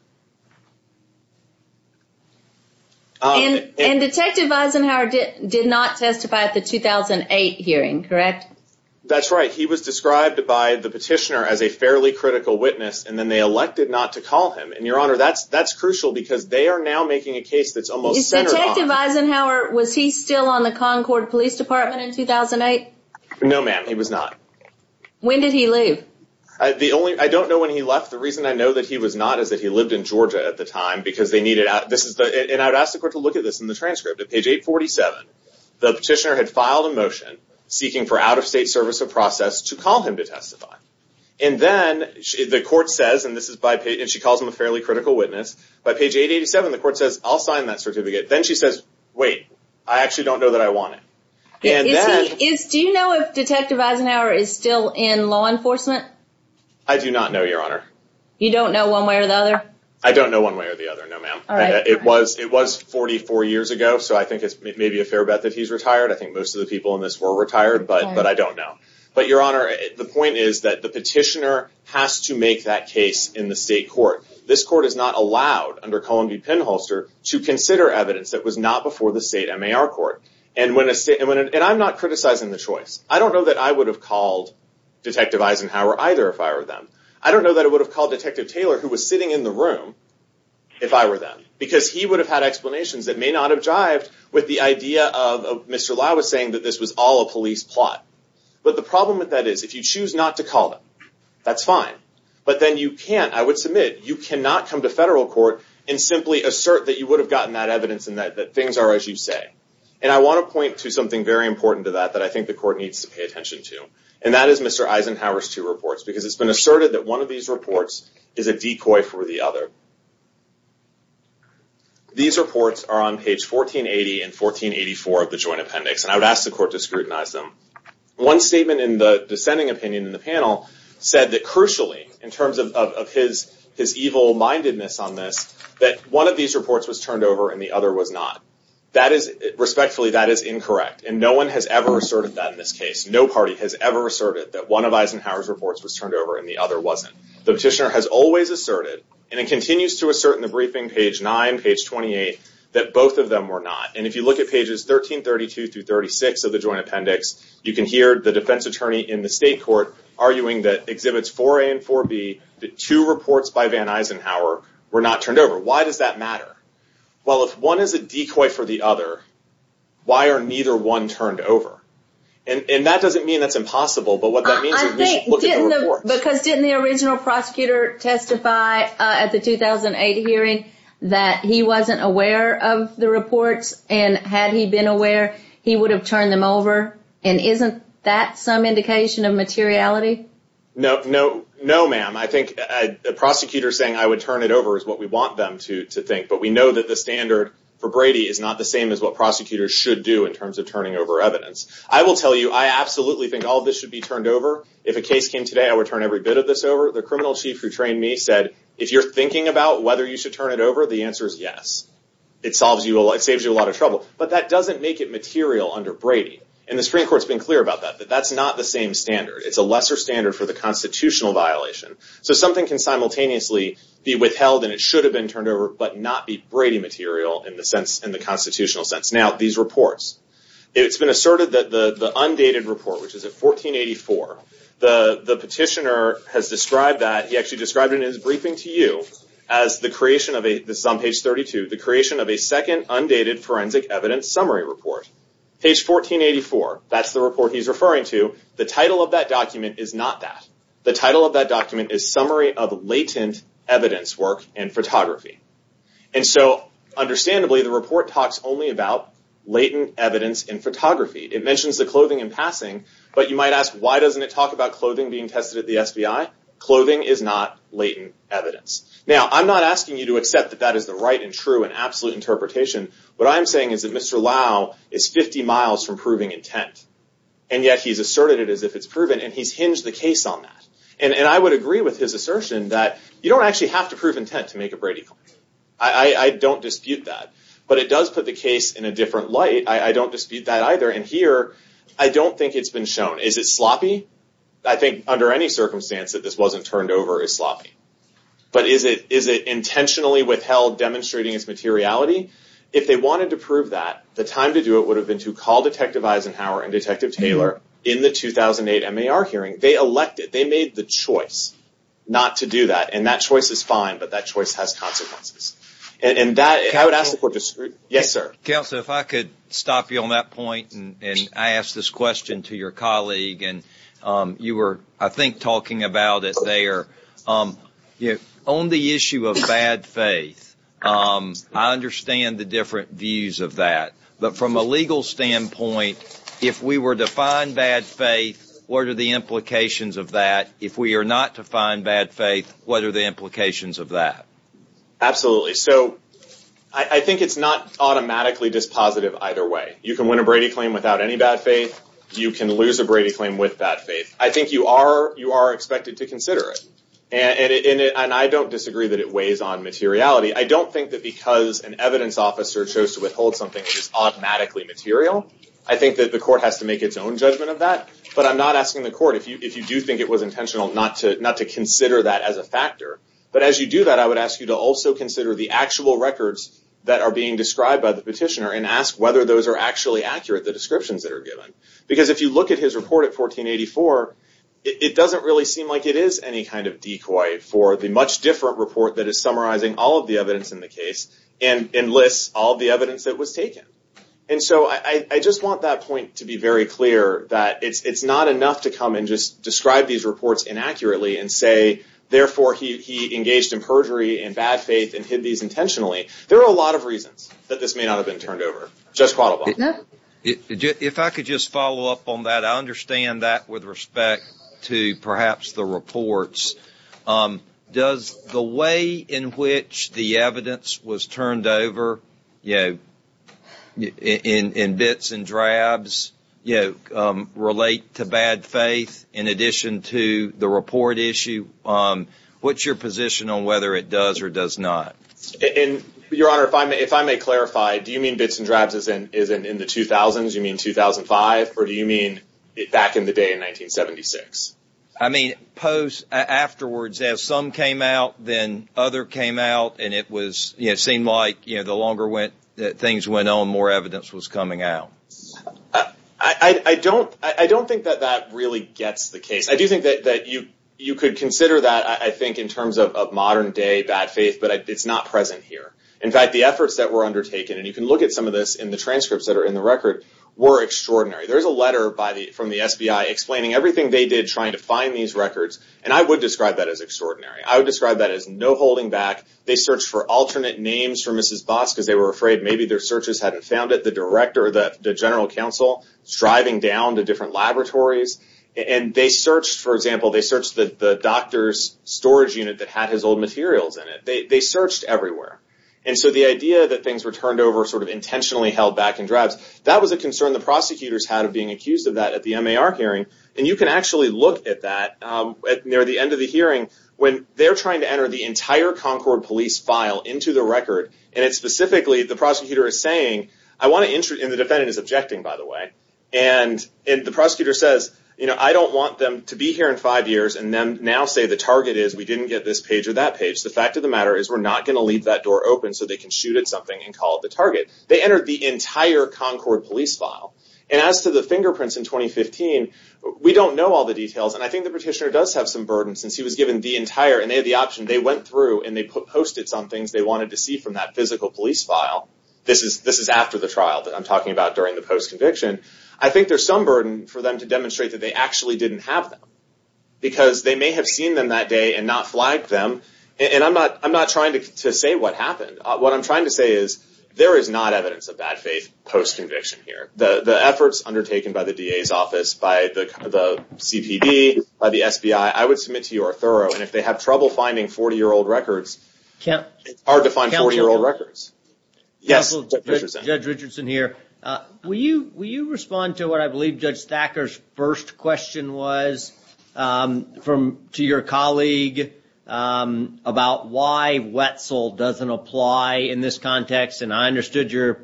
And Detective Eisenhower did not testify at the 2008 hearing, correct? That's right. He was described by the petitioner as a fairly critical witness. And then they elected not to call him. And Your Honor, that's crucial because they are now making a case that's almost. Detective Eisenhower, was he still on the Concord Police Department in 2008? No, ma'am, he was not. When did he leave? The only, I don't know when he left. The reason I know that he was not is that he lived in Georgia at the time, because they needed out. This is, and I'd ask the court to look at this in the transcript. At page 847, the petitioner had filed a motion seeking for out-of-state service of process to call him to testify. And then the court says, and this is by page, and she calls him a fairly critical witness. By page 887, the court says, I'll sign that certificate. Then she says, wait, I actually don't know that I want it. And that is, do you know if Detective Eisenhower is still in law enforcement? I do not know, Your Honor. You don't know one way or the other? I don't know one way or the other. No, ma'am. It was, it was 44 years ago. So I think it's maybe a fair bet that he's retired. I think most of the people in this were retired, but I don't know. But Your Honor, the point is that the petitioner has to make that case in the state court. This court is not allowed under Columbia Penholster to consider evidence that was not before the state MAR court. And when, and I'm not criticizing the choice. I don't know that I would have called Detective Eisenhower either if I were them. I don't know that I would have called Detective Taylor, who was sitting in the room, if I were them. Because he would have had explanations that may not have jived with the idea of Mr. Lai was saying that this was all a police plot. But the problem with that is, if you choose not to call him, that's fine. But then you can't, I would submit, you cannot come to federal court and simply assert that you would have gotten that evidence and that things are as you say. And I want to point to something very important to that, that I think the court needs to pay attention to. And that is Mr. Eisenhower's two reports. Because it's been asserted that one of these reports is a decoy for the other. These reports are on page 1480 and 1484 of the Joint Appendix. And I would ask the court to scrutinize them. One statement in the dissenting opinion in the panel said that crucially, in terms of his evil mindedness on this, that one of these reports was turned over and the other was not. That is, respectfully, that is incorrect. And no one has ever asserted that in this case. No party has ever asserted that one of Eisenhower's reports was turned over and the other wasn't. The petitioner has always asserted, and it continues to assert in the briefing, page 9, page 28, that both of them were not. And if you look at pages 1332 through 36 of the Joint Appendix, you can hear the defense attorney in the state court arguing that exhibits 4A and 4B, the two reports by Van Eisenhower were not turned over. Why does that matter? Well, if one is a decoy for the other, why are neither one turned over? And that doesn't mean it's impossible, but what that means is we can look at the report. Because didn't the original prosecutor testify at the 2008 hearing that he wasn't aware of the reports? And had he been aware, he would have turned them over. And isn't that some indication of materiality? No, no, no, ma'am. I think a prosecutor saying I would turn it over is what we want them to think. But we know that the standard for Brady is not the same as what prosecutors should do in terms of turning over evidence. I will tell you, I absolutely think all of this should be turned over. If a case came today, I would turn every bit of this over. The criminal chief who trained me said, if you're thinking about whether you should turn it over, the answer is yes. It saves you a lot of trouble. But that doesn't make it material under Brady. And the Supreme Court's been clear about that, that that's not the same standard. It's a lesser standard for the constitutional violation. So something can simultaneously be withheld and it should have been turned over, but not be Brady material in the constitutional sense. Now, these reports. It's been asserted that the undated report, which is at 1484, the petitioner has described that, he actually described it in his briefing to you as the creation of a, this is on page 32, the creation of a second undated forensic evidence summary report. Page 1484, that's the report he's referring to. The title of that document is not that. The title of that document is latent evidence in photography. And so, understandably, the report talks only about latent evidence in photography. It mentions the clothing in passing, but you might ask, why doesn't it talk about clothing being tested at the FBI? Clothing is not latent evidence. Now, I'm not asking you to accept that that is the right and true and absolute interpretation. What I'm saying is that Mr. Lau is 50 miles from proving intent. And yet he's asserted it as if it's proven and he's hinged the case on that. And I would agree with his assertion that you don't actually have to prove intent to make a Brady complaint. I don't dispute that. But it does put the case in a different light. I don't dispute that either. And here, I don't think it's been shown. Is it sloppy? I think under any circumstance that this wasn't turned over as sloppy. But is it intentionally withheld demonstrating its materiality? If they wanted to prove that, the time to do it would have been to call Detective Eisenhower and Detective Taylor in the 2008 MAR hearing. They elected, they made the choice not to do that. And that choice is fine, but that choice has consequences. And I would ask if we're discreet. Yes, sir. Counsel, if I could stop you on that point. And I asked this question to your colleague. And you were, I think, talking about it there. On the issue of bad faith, I understand the different views of that. But from a legal standpoint, if we were to find bad faith, what are the implications of that? If we are not to find bad faith, what are the implications of that? Absolutely. So I think it's not automatically just positive either way. You can win a Brady claim without any bad faith. You can lose a Brady claim with bad faith. I think you are expected to consider it. And I don't disagree that it weighs on materiality. I don't think that because an evidence officer chose to withhold something which is automatically material, I think that the court has to make its own judgment of that. But I'm not asking the court, if you do think it was intentional not to consider that as a factor. But as you do that, I would ask you to also consider the actual records that are being described by the petitioner and ask whether those are actually accurate, the descriptions that are given. Because if you look at his report of 1484, it doesn't really seem like it is any kind of decoy for the much different report that is summarizing all of the evidence in the case and lists all the evidence that was taken. And so I just want that point to be very clear that it's not enough to come and just describe these reports inaccurately and say, therefore, he engaged in perjury and bad faith and hid these intentionally. There are a lot of reasons that this may not have been turned over. Just follow up. If I could just follow up on that. I understand that with respect to perhaps the reports. Does the way in which the evidence was turned over, in bits and drabs, relate to bad faith in addition to the report issue? What's your position on whether it does or does not? And, Your Honor, if I may clarify, do you mean bits and drabs in the 2000s? You mean 2005? Or do you mean back in the day in 1976? I mean, post afterwards, as some came out, then other came out, and it seemed like the longer things went on, more evidence was coming out. I don't think that that really gets the case. I do think that you could consider that, I think, in terms of modern day bad faith, but it's not present here. In fact, the efforts that were undertaken, and you can look at some of this in the transcripts that are in the record, were extraordinary. There's a letter from the FBI explaining everything they did trying to find these records, and I would describe that as extraordinary. I would describe that as no holding back. They searched for alternate names for Mrs. Boss because they were afraid maybe their searches hadn't found it. The general counsel was driving down the different laboratories, and they searched, for example, they searched the doctor's storage unit that had his old materials in it. They searched everywhere, and so the idea that things were turned over sort of intentionally held back and drabs, that was a concern the prosecutors had of being accused of that at the MAR hearing, and you can actually look at that near the end of the hearing the entire Concord Police file into the record, and it's specifically, the prosecutor is saying, and the defendant is objecting, by the way, and the prosecutor says, you know, I don't want them to be here in five years and then now say the target is we didn't get this page or that page. The fact of the matter is we're not going to leave that door open so they can shoot at something and call it the target. They entered the entire Concord Police file, and as to the fingerprints in 2015, we don't know all the details, and I think the petitioner does have some burden since he was given the entire, and they had the option, they went through and they posted some things they wanted to see from that physical police file. This is after the trial that I'm talking about during the post-conviction. I think there's some burden for them to demonstrate that they actually didn't have them because they may have seen them that day and not flagged them, and I'm not trying to say what happened. What I'm trying to say is there is not evidence of bad faith post-conviction here. The efforts undertaken by the DA's office, by the CTV, by the FBI, I would submit to you are thorough, and if they have trouble finding 40-year-old records, hard to find 40-year-old records. Judge Richardson here. Will you respond to what I believe Judge Thacker's first question was to your colleague about why Wetzel doesn't apply in this context, and I understood your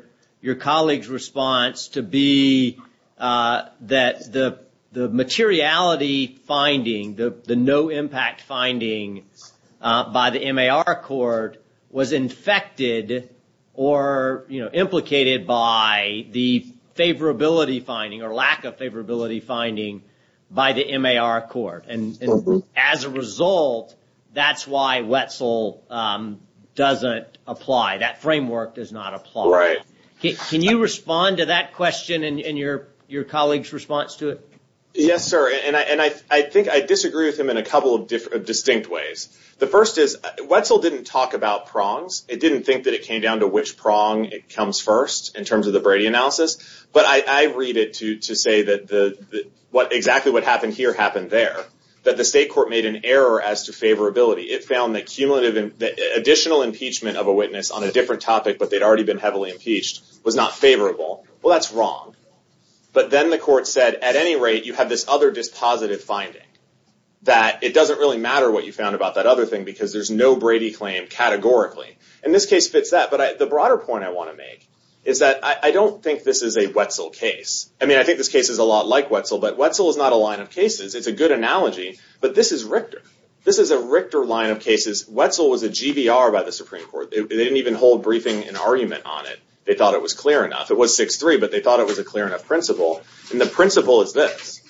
colleague's response to be that the materiality finding, the no-impact finding by the MAR court was infected or implicated by the favorability finding or lack of favorability finding by the MAR court, and as a result, that's why Wetzel doesn't apply. That framework does not apply. Right. Can you respond to that question in your colleague's response to it? Yes, sir, and I think I disagree with him in a couple of distinct ways. The first is Wetzel didn't talk about prongs. It didn't think that it came down to which prong it comes first in terms of the Brady analysis, but I read it to say that exactly what happened here happened there, that the state court made an error as to favorability. It found that additional impeachment of a witness on a different topic but they'd already been heavily impeached was not favorable. Well, that's wrong, but then the court said, at any rate, you have this other dispositive finding that it doesn't really matter what you found about that other thing because there's no Brady claim categorically, and this case fits that, but the broader point I want to make is that I don't think this is a Wetzel case. I mean, I think this case is a lot like Wetzel, but Wetzel is not a line of cases. It's a good analogy, but this is Richter. This is a Richter line of cases. Wetzel was a GVR by the Supreme Court. They didn't even hold briefing and argument on it. They thought it was clear enough. It was 6-3, but they thought it was a clear enough principle, and the principle is this,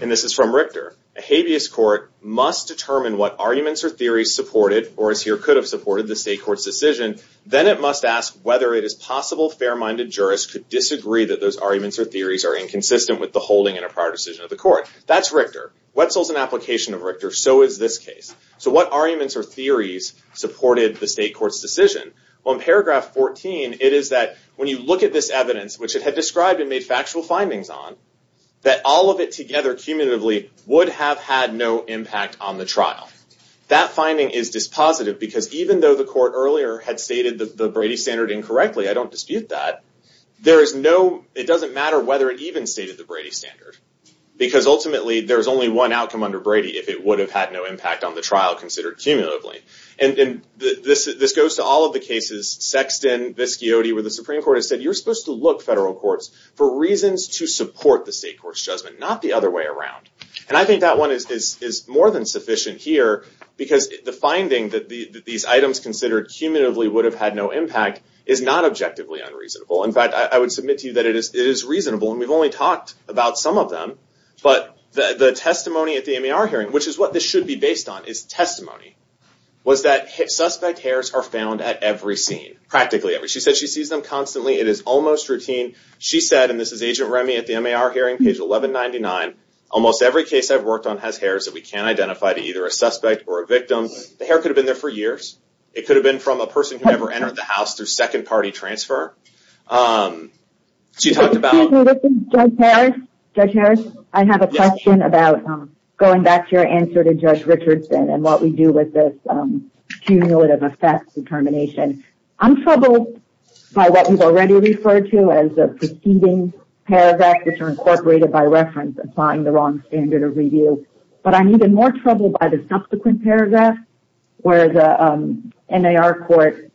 and this is from Richter. A habeas court must determine what arguments or theories supported or could have supported the state court's decision. Then it must ask whether it is possible fair-minded jurists could disagree that those arguments or theories are inconsistent with the holding and a prior decision of the court. That's Richter. Wetzel's an application of Richter. So is this case. So what arguments or theories supported the state court's decision? Well, in paragraph 14, it is that when you look at this evidence, which it had described and made factual findings on, that all of it together, cumulatively, would have had no impact on the trial. That finding is dispositive because even though the court earlier had stated the Brady standard incorrectly, I don't dispute that, there is no, it doesn't matter whether it even stated the Brady standard because ultimately there's only one outcome under Brady if it would have had no impact on the trial considered cumulatively, and then this goes to all of the cases, Sexton, Viscoti, where the Supreme Court has said, you're supposed to look, federal courts, for reasons to support the state court's judgment, not the other way around. And I think that one is more than sufficient here because the finding that these items considered cumulatively would have had no impact is not objectively unreasonable. In fact, I would submit to you that it is reasonable and we've only talked about some of them, but the testimony at the MAR hearing, which is what this should be based on, is testimony, was that suspect hairs are found at every scene, practically every, she said she sees them constantly, it is almost routine. She said, and this is Agent Remy at the MAR hearing, page 1199, almost every case I've worked on has hairs that we can't identify to either a suspect or a victim. The hair could have been there for years. It could have been from a person who never entered the house through second-party transfer. She talked about- Excuse me, this is Judge Harris. I have a question about going back to your answer to Judge Richardson and what we do with this cumulative effect determination. I'm troubled by what we've already referred to as the preceding paragraph incorporated by reference, applying the wrong standard of review, but I'm even more troubled by the subsequent paragraph where the MAR court,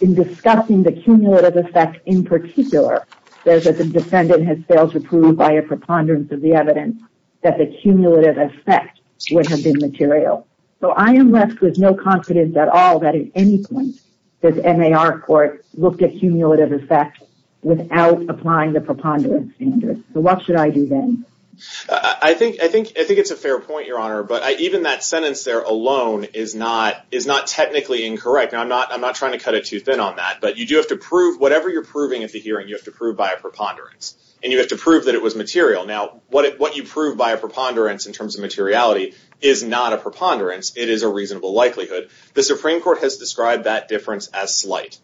in discussing the cumulative effect in particular, says that the defendant has failed to prove by a preponderance of the evidence that the cumulative effect would have been material. So I am left with no confidence at all that at any point this MAR court looked at cumulative effect without applying the preponderance standard. So what should I do then? I think it's a fair point, Your Honor, but even that sentence there alone is not technically incorrect. Now, I'm not trying to cut it too thin on that, but you do have to prove, whatever you're proving at the hearing, you have to prove by a preponderance and you have to prove that it was material. Now, what you prove by a preponderance in terms of materiality is not a preponderance. It is a reasonable likelihood. The Supreme Court has described that difference as slight.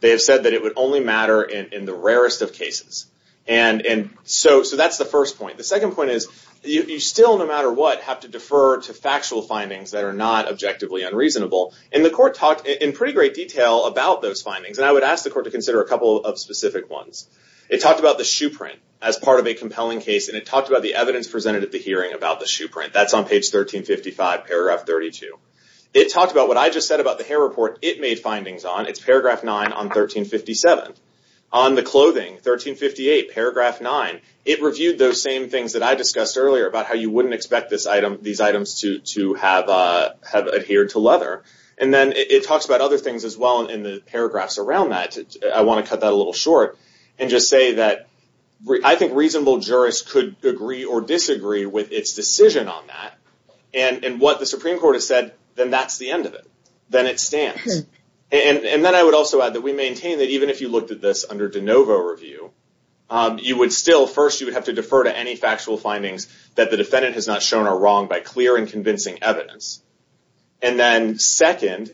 They have said that it would only matter in the rarest of cases. And so that's the first point. The second point is you still, no matter what, have to defer to factual findings that are not objectively unreasonable. And the court talked in pretty great detail about those findings, and I would ask the court to consider a couple of specific ones. It talked about the shoe print as part of a compelling case, and it talked about the evidence presented at the hearing about the shoe print. That's on page 1355, paragraph 32. It talked about what I just said about the hair report it made findings on. It's paragraph nine on 1357. On the clothing, 1358, paragraph nine, it reviewed those same things that I discussed earlier about how you wouldn't expect this item, these items to have adhered to leather. And then it talks about other things as well in the paragraphs around that. I want to cut that a little short and just say that I think reasonable jurists could agree or disagree with its decision on that. And what the Supreme Court has said, then that's the end of it. Then it stands. And then I would also add that we maintain that even if you looked at this under DeNovo review, you would still, first, you would have to defer to any factual findings that the defendant has not shown a wrong by clear and convincing evidence. And then second,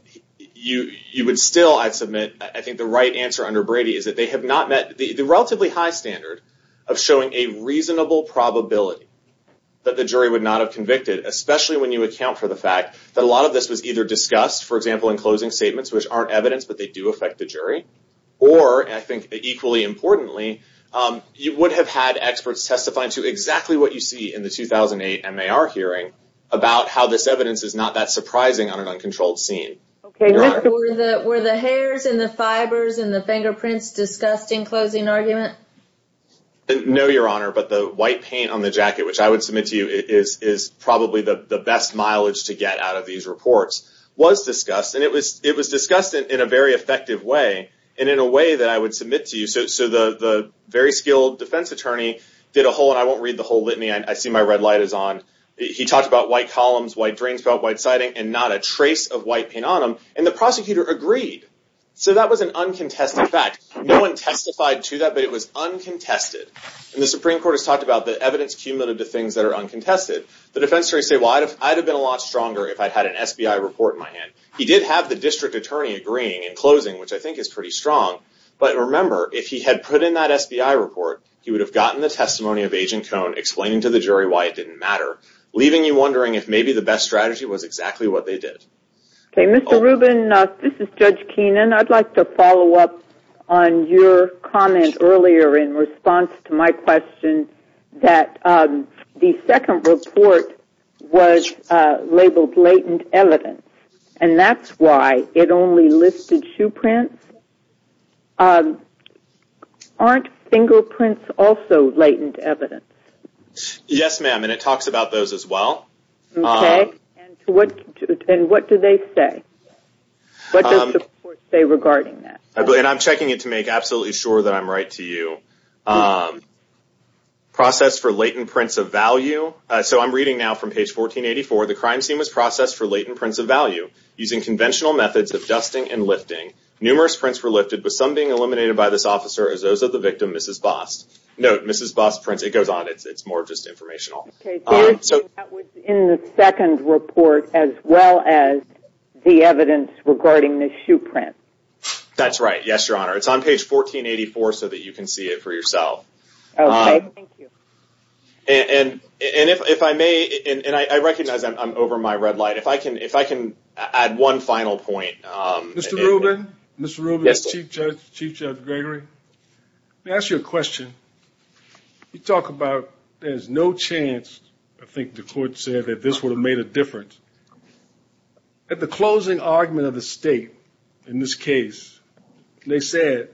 you would still, I submit, I think the right answer under Brady is that they have not met the relatively high standard of showing a reasonable probability that the jury would not have convicted, especially when you account for the fact that a lot of this was either discussed, for example, in closing statements, which aren't evidence that they do affect the jury, or I think equally importantly, you would have had experts testify to exactly what you see in the 2008 MAR hearing about how this evidence is not that surprising on an uncontrolled scene. Okay, were the hairs and the fibers and the fingerprints discussed in closing arguments? No, Your Honor, but the white paint on the jacket, which I would submit to you is probably the best mileage to get out of these reports, was discussed, and it was discussed in a very effective way, and in a way that I would submit to you. So the very skilled defense attorney did a whole, and I won't read the whole litany, I assume my red light is on. He talked about white columns, white drains felt, white siding, and not a trace of white paint on them, and the prosecutor agreed. So that was an uncontested fact. No one testified to that, but it was uncontested. And the Supreme Court has talked about the evidence cumulative to things that are uncontested. The defense jury said, well, I'd have been a lot stronger if I had an SBI report in my hand. He did have the district attorney agreeing in closing, which I think is pretty strong. But remember, if he had put in that SBI report, he would have gotten the testimony of aging tone, explained to the jury why it didn't matter, leaving you wondering if maybe the best strategy was exactly what they did. Okay, Mr. Rubin, this is Judge Keenan. I'd like to follow up on your comment earlier in response to my question that the second report was labeled latent evidence, and that's why it only listed shoe prints. Aren't fingerprints also latent evidence? Yes, ma'am, and it talks about those as well. Okay, and what do they say? What does the report say regarding that? And I'm checking it to make absolutely sure that I'm right to you. Process for latent prints of value. So I'm reading now from page 1484. The crime team was processed for latent prints of value using conventional methods of dusting and lifting. Numerous prints were lifted, with some being eliminated by this officer as those of the victim, Mrs. Boss. Note, Mrs. Boss prints. It goes on. It's more just informational. Okay, so that was in the second report as well as the evidence regarding the shoe print. That's right. Yes, Your Honor. It's on page 1484 so that you can see it for yourself. Okay, thank you. And if I may, and I recognize I'm over my red light. If I can add one final point. Mr. Rubin? Mr. Rubin, Chief Judge Gregory, let me ask you a question. You talk about there's no chance, I think the court said that this would have made a difference. At the closing argument of the state in this case, they said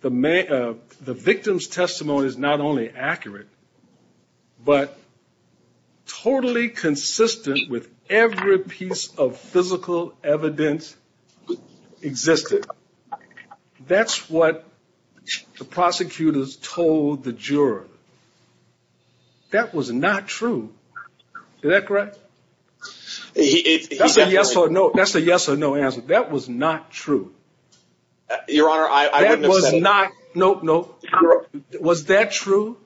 the victim's testimony is not only accurate, but totally consistent with every piece of physical evidence existing. That's what the prosecutors told the juror. That was not true. Is that correct? That's a yes or no answer. That was not true. Your Honor, I... That was not... Nope, nope. Was that true?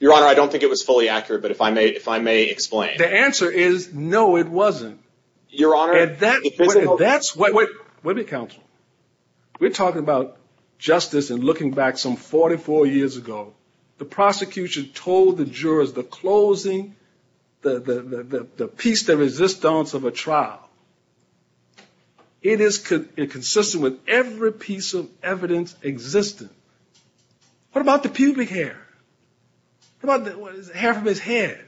Your Honor, I don't think it was fully accurate, but if I may explain. The answer is no, it wasn't. Your Honor... And that's what... Wait, wait, wait, counsel. We're talking about justice and looking back some 44 years ago. The prosecution told the jurors the closing, the piece de resistance of a trial it is consistent with every piece of evidence existing. What about the pubic hair? What about the hair from his head?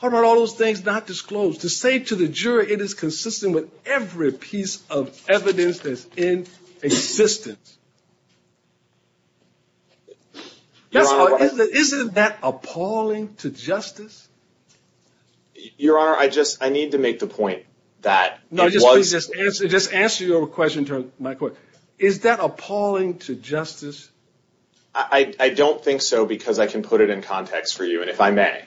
What about all those things not disclosed? To say to the juror it is consistent with every piece of evidence that's in existence. That's what... Isn't that appalling to justice? Your Honor, I just... I need to make the point. That it was... No, just answer your question to my question. Is that appalling to justice? I don't think so because I can put it in context for you, and if I may.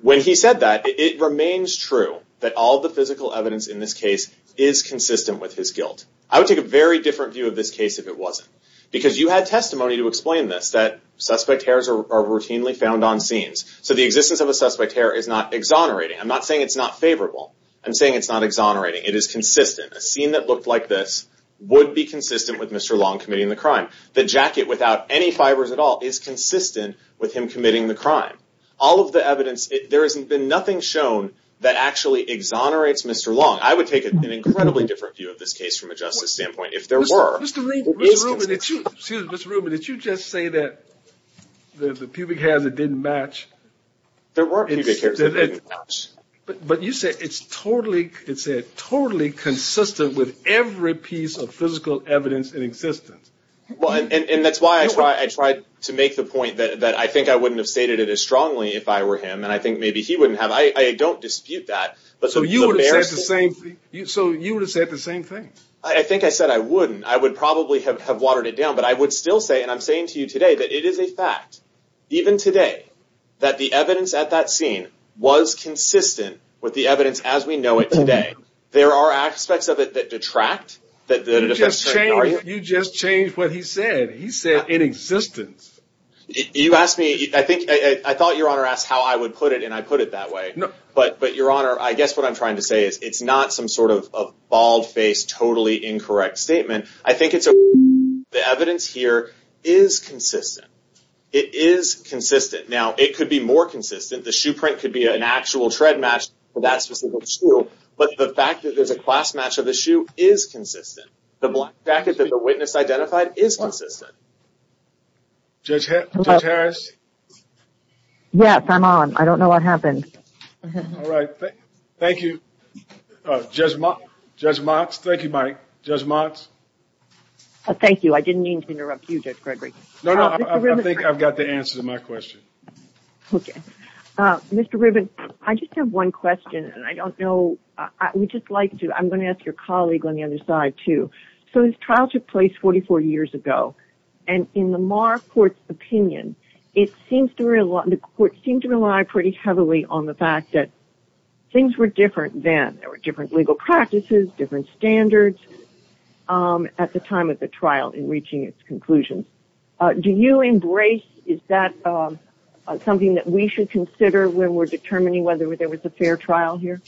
When he said that, it remains true that all the physical evidence in this case is consistent with his guilt. I would take a very different view of this case if it wasn't. Because you had testimony to explain this, that suspect hairs are routinely found on scenes. So the existence of a suspect hair is not exonerating. I'm not saying it's not favorable. I'm saying it's not exonerating. It is consistent. A scene that looked like this would be consistent with Mr. Long committing the crime. The jacket without any fibers at all is consistent with him committing the crime. All of the evidence... There has been nothing shown that actually exonerates Mr. Long. I would take an incredibly different view of this case from a justice standpoint. If there were... Mr. Rubin, did you... Excuse me, Mr. Rubin. Did you just say that there's a pubic hair that didn't match? There weren't any pubic hairs that didn't match. But you said it's totally consistent with every piece of physical evidence in existence. And that's why I tried to make the point that I think I wouldn't have stated it as strongly if I were him. And I think maybe he wouldn't have. I don't dispute that. So you would have said the same thing. I think I said I wouldn't. I would probably have watered it down. But I would still say, and I'm saying to you today, that it is a fact, even today, that the evidence at that scene was consistent with the evidence as we know it today. There are aspects of it that detract. You just changed what he said. He said, in existence. You asked me... I think I thought Your Honor asked how I would put it, and I put it that way. But Your Honor, I guess what I'm trying to say is it's not some sort of a bald-faced, totally incorrect statement. I think it's... The evidence here is consistent. It is consistent. It could be more consistent. The shoe print could be an actual tread match for that specific shoe. But the fact that there's a class match of the shoe is consistent. The black jacket that the witness identified is consistent. Judge Harris? Yes, I'm on. I don't know what happened. All right, thank you. Judge Motz? Thank you, Mike. Judge Motz? Thank you. I didn't mean to interrupt you, Judge Gregory. No, no, I think I've got the answer to my question. Okay. Mr. Riven, I just have one question, and I don't know... I would just like to... I'm going to ask your colleague on the other side, too. So this trial took place 44 years ago, and in the Maher court's opinion, it seems to rely... The court seemed to rely pretty heavily on the fact that things were different then. There were different legal practices, different standards at the time of the trial in reaching its conclusion. Do you embrace... something that we should consider when we're determining whether there was a fair trial here?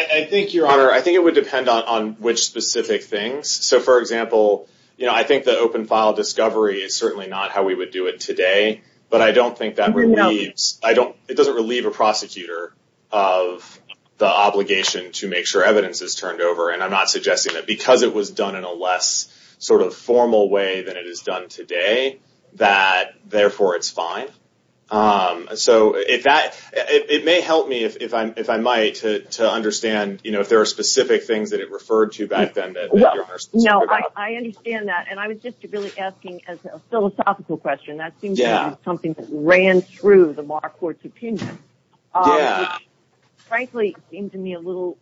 I think, Your Honor, I think it would depend on which specific things. So, for example, I think the open file discovery is certainly not how we would do it today, but I don't think that relieves... I don't... It doesn't relieve a prosecutor of the obligation to make sure evidence is turned over, and I'm not suggesting that. Because it was done in a less sort of formal way than it is done today, that, therefore, it's fine. So if that... It may help me, if I might, to understand, you know, if there are specific things that it referred to back then. No, I understand that. And I was just really asking a philosophical question. That seems to be something that ran through the Maher court's opinion. Yeah. Which, frankly, seems to me a little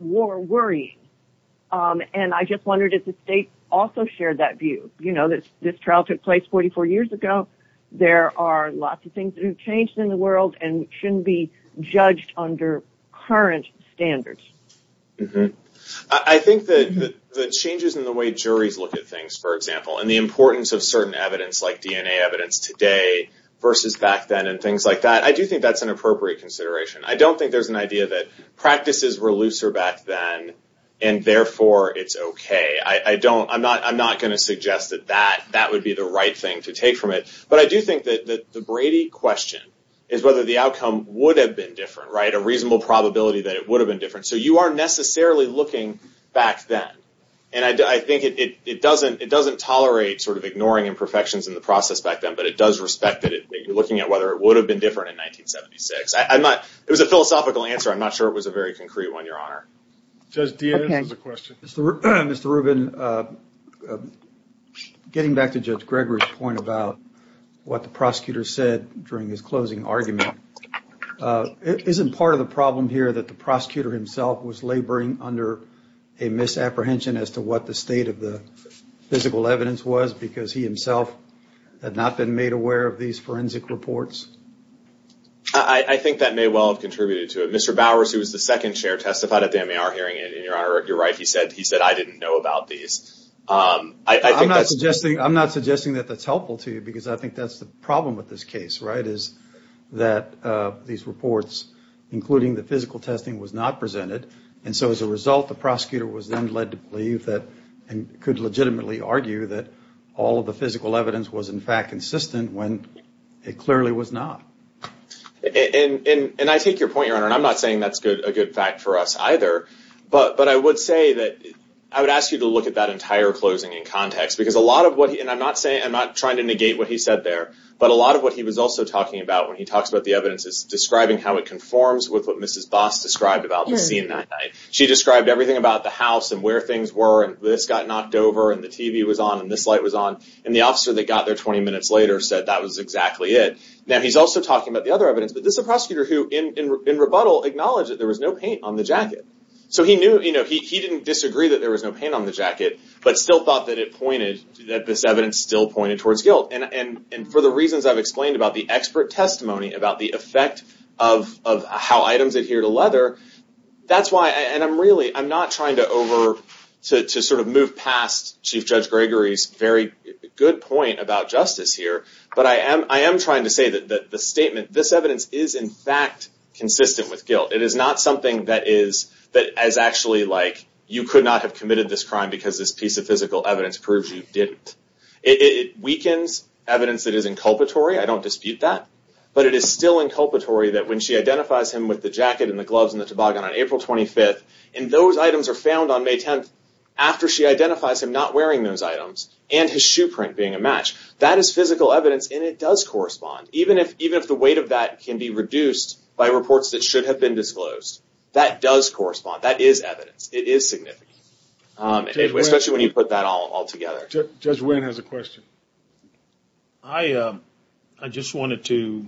more worrying. And I just wondered if the state also shared that view. You know, this trial took place 44 years ago. There are lots of things that have changed in the world and shouldn't be judged under current standards. I think that the changes in the way juries look at things, for example, and the importance of certain evidence, like DNA evidence today versus back then, and things like that, I do think that's an appropriate consideration. I don't think there's an idea that practices were looser back then, and, therefore, it's okay. I'm not going to suggest that that would be the right thing to take from it. But I do think that the Brady question is whether the outcome would have been different, right? A reasonable probability that it would have been different. So you aren't necessarily looking back then. And I think it doesn't tolerate sort of ignoring imperfections in the process back then, but it does respect that you're looking at whether it would have been different in 1976. It was a philosophical answer. I'm not sure it was a very concrete one, Your Honor. Judge Diaz has a question. Mr. Rubin, getting back to Judge Gregory's point about what the prosecutor said during his closing argument, isn't part of the problem here that the prosecutor himself was laboring under a misapprehension as to what the state of the physical evidence was because he himself had not been made aware of these forensic reports? I think that may well have contributed to it. Mr. Bowers, who was the second chair, testified at the MAR hearing, and, Your Honor, you're right. He said, I didn't know about these. I'm not suggesting that that's helpful to you because I think that's the problem with this case, right, is that these reports, including the physical testing, was not presented. And so as a result, the prosecutor was then led to believe that and could legitimately argue that all of the physical evidence was, in fact, consistent when it clearly was not. And I take your point, Your Honor, and I'm not saying that's a good fact for us either, but I would say that I would ask you to look at that entire closing in context because a lot of what, and I'm not saying, I'm not trying to negate what he said there, but a lot of what he was also talking about when he talks about the evidence is describing how it conforms with what Mrs. Boss described about the scene that night. She described everything about the house and where things were and this got knocked over and the TV was on and this light was on and the officer that got there 20 minutes later said that was exactly it. Now, he's also talking about the other evidence that this is a prosecutor who, in rebuttal, acknowledged that there was no paint on the jacket. So he knew, he didn't disagree that there was no paint on the jacket, but still thought that it pointed, that this evidence still pointed towards guilt. And for the reasons I've explained about the expert testimony, about the effect of how items adhere to leather, that's why, and I'm really, I'm not trying to sort of move past Chief Judge Gregory's very good point about justice here, but I am trying to say that the statement, this evidence is, in fact, consistent with guilt. It is not something that is, that is actually like you could not have committed this crime because this piece of physical evidence proves you didn't. It weakens evidence that is inculpatory, I don't dispute that, but it is still inculpatory that when she identifies him with the jacket and the gloves and the toboggan on April 25th and those items are found on May 10th after she identifies him not wearing those items and his shoe print being a match, that is physical evidence and it does correspond. Even if the weight of that can be reduced by reports that should have been disclosed, that does correspond, that is evidence, it is significant, especially when you put that all together. Judge Wynn has a question. I just wanted to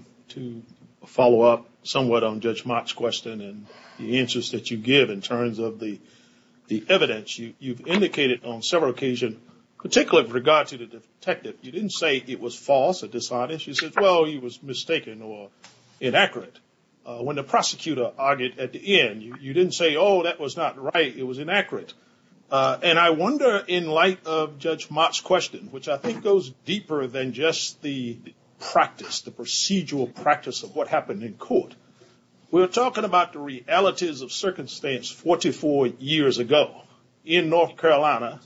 follow up somewhat on Judge Mott's question and the answers that you give in terms of the evidence. You've indicated on several occasions, particularly with regard to the detective, you didn't say it was false at this time, and she said, well, he was mistaken or inaccurate. When the prosecutor argued at the end, you didn't say, oh, that was not right, it was inaccurate. And I wonder in light of Judge Mott's question, which I think goes deeper than just the practice, the procedural practice of what happened in court, we're talking about the realities of circumstance 44 years ago in North Carolina,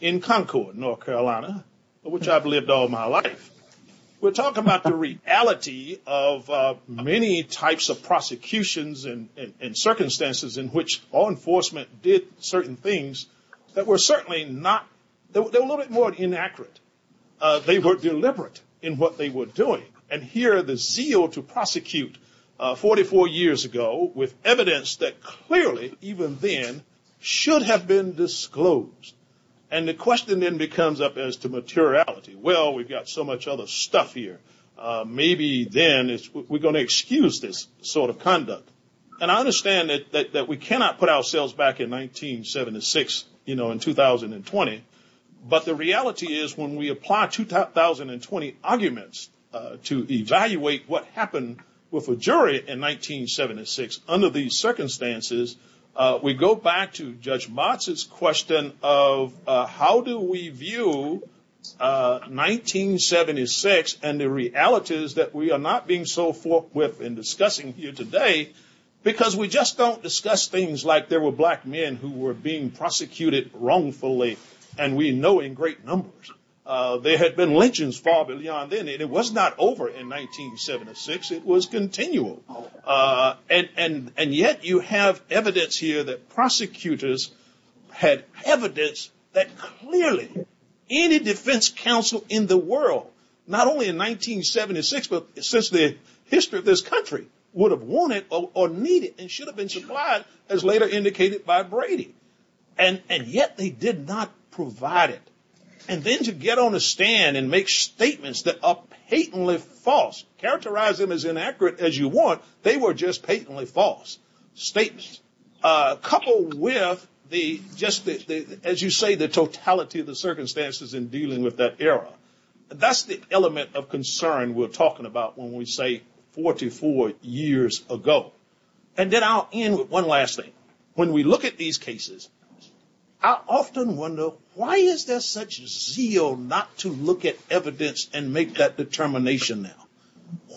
in Concord, North Carolina, which I've lived all my life. We're talking about the reality of many types of prosecutions and circumstances in which law enforcement did certain things that were certainly not, they were a little bit more inaccurate. They were deliberate in what they were doing. And here, the zeal to prosecute 44 years ago with evidence that clearly, even then, should have been disclosed. And the question then becomes up as to materiality. Well, we've got so much other stuff here. Maybe then we're going to excuse this sort of conduct. And I understand that we cannot put ourselves back in 1976, you know, in 2020. But the reality is when we apply 2020 arguments to evaluate what happened with the jury in 1976 under these circumstances, we go back to Judge Mott's question of how do we view 1976 and the realities that we are not being so forthwith in discussing here today, because we just don't discuss things like there were black men who were being prosecuted wrongfully, and we know in great numbers. There had been lynchings far beyond then, and it was not over in 1976. It was continual. And yet you have evidence here that prosecutors had evidence that clearly any defense counsel in the world, not only in 1976, but since the history of this country, would have wanted or needed and should have been supplied, as later indicated by Brady, and yet they did not provide it. And then to get on a stand and make statements that are patently false, characterize them as inaccurate as you want, they were just patently false statements, coupled with the, just as you say, the totality of the circumstances in dealing with that era. That's the element of concern we're talking about when we say 44 years ago. And then I'll end with one last thing. When we look at these cases, I often wonder why is there such zeal not to look at evidence and make that determination now?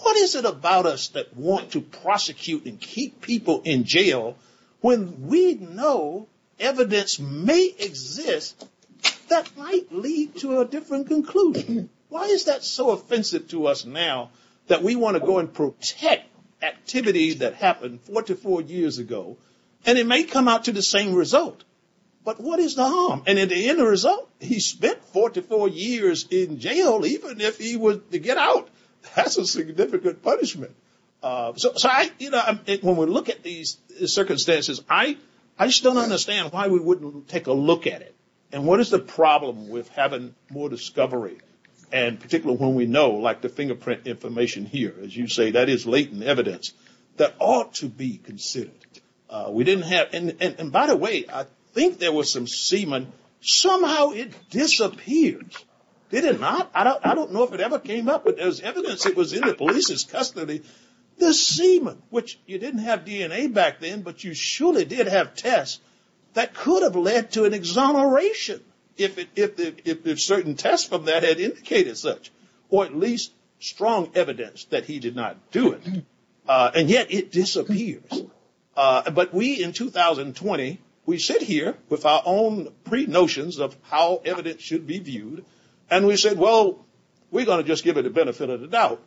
What is it about us that want to prosecute and keep people in jail when we know evidence may exist that might lead to a different conclusion? Why is that so offensive to us now that we want to go and protect activities that happened 44 years ago, and it may come out to the same result? But what is the harm? And in the end result, he spent 44 years in jail, even if he was to get out. That's a significant punishment. So when we look at these circumstances, I just don't understand why we wouldn't take a look at it. And what is the problem with having more discovery? And particularly when we know, like the fingerprint information here, as you say, that is latent evidence that ought to be considered. We didn't have, and by the way, I think there was some semen, somehow it disappeared. Did it not? I don't know if it ever came up, but as evidence it was in the police's custody, the semen, which you didn't have DNA back then, but you surely did have tests, that could have led to an exoneration if certain tests from that had indicated such, or at least strong evidence that he did not do it. And yet it disappears. But we, in 2020, we sit here with our own pre-notions of how evidence should be viewed, and we said, well, we're going to just give the benefit of the doubt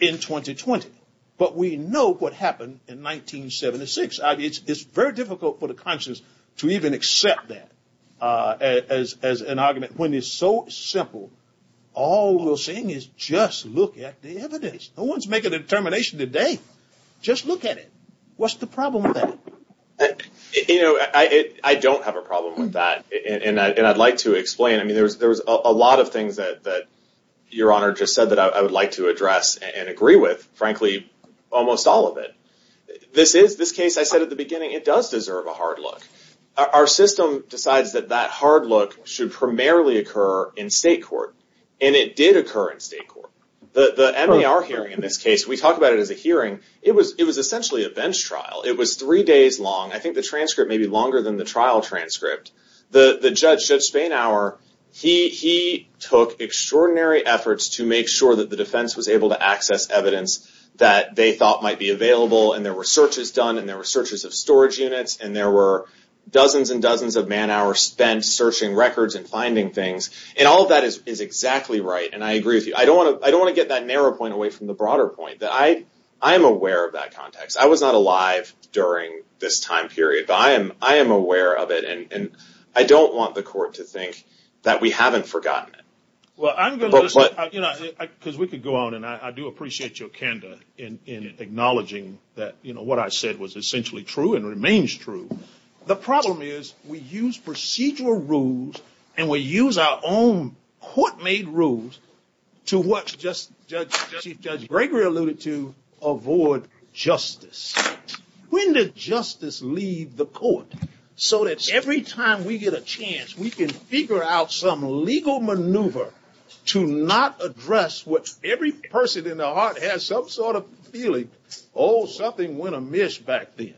in 2020. But we know what happened in 1976. I mean, it's very difficult for the conscience to even accept that as an argument. When it's so simple, all we're saying is just look at the evidence. No one's making a determination today. Just look at it. What's the problem with that? You know, I don't have a problem with that. And I'd like to explain, I mean, there's a lot of things that Your Honor just said that I would like to address and agree with. Frankly, almost all of it. This is, this case, I said at the beginning, it does deserve a hard look. Our system decides that that hard look should primarily occur in state court, and it did occur in state court. The NLR hearing, in this case, we talk about it as a hearing, it was essentially a bench trial. It was three days long. I think the transcript may be longer than the trial transcript. The judge, Judge Feinauer, he took extraordinary efforts to make sure that the defense was able to access evidence that they thought might be available, and there were searches done, and there were searches of storage units, and there were dozens and dozens of man hours spent searching records and finding things. And all of that is exactly right, and I agree with you. I don't want to get that narrow point away from the broader point, that I'm aware of that context. I was not alive during this time period, but I am aware of it. And I don't want the court to think that we haven't forgotten it. Well, I'm gonna, you know, because we could go on, and I do appreciate your candor in acknowledging that, you know, what I said was essentially true and remains true. The problem is, we use procedural rules, and we use our own court-made rules to what Judge Gregory alluded to, avoid justice. When did justice leave the court? So that every time we get a chance, we can figure out some legal maneuver to not address what every person in the heart has some sort of feeling, oh, something went amiss back then.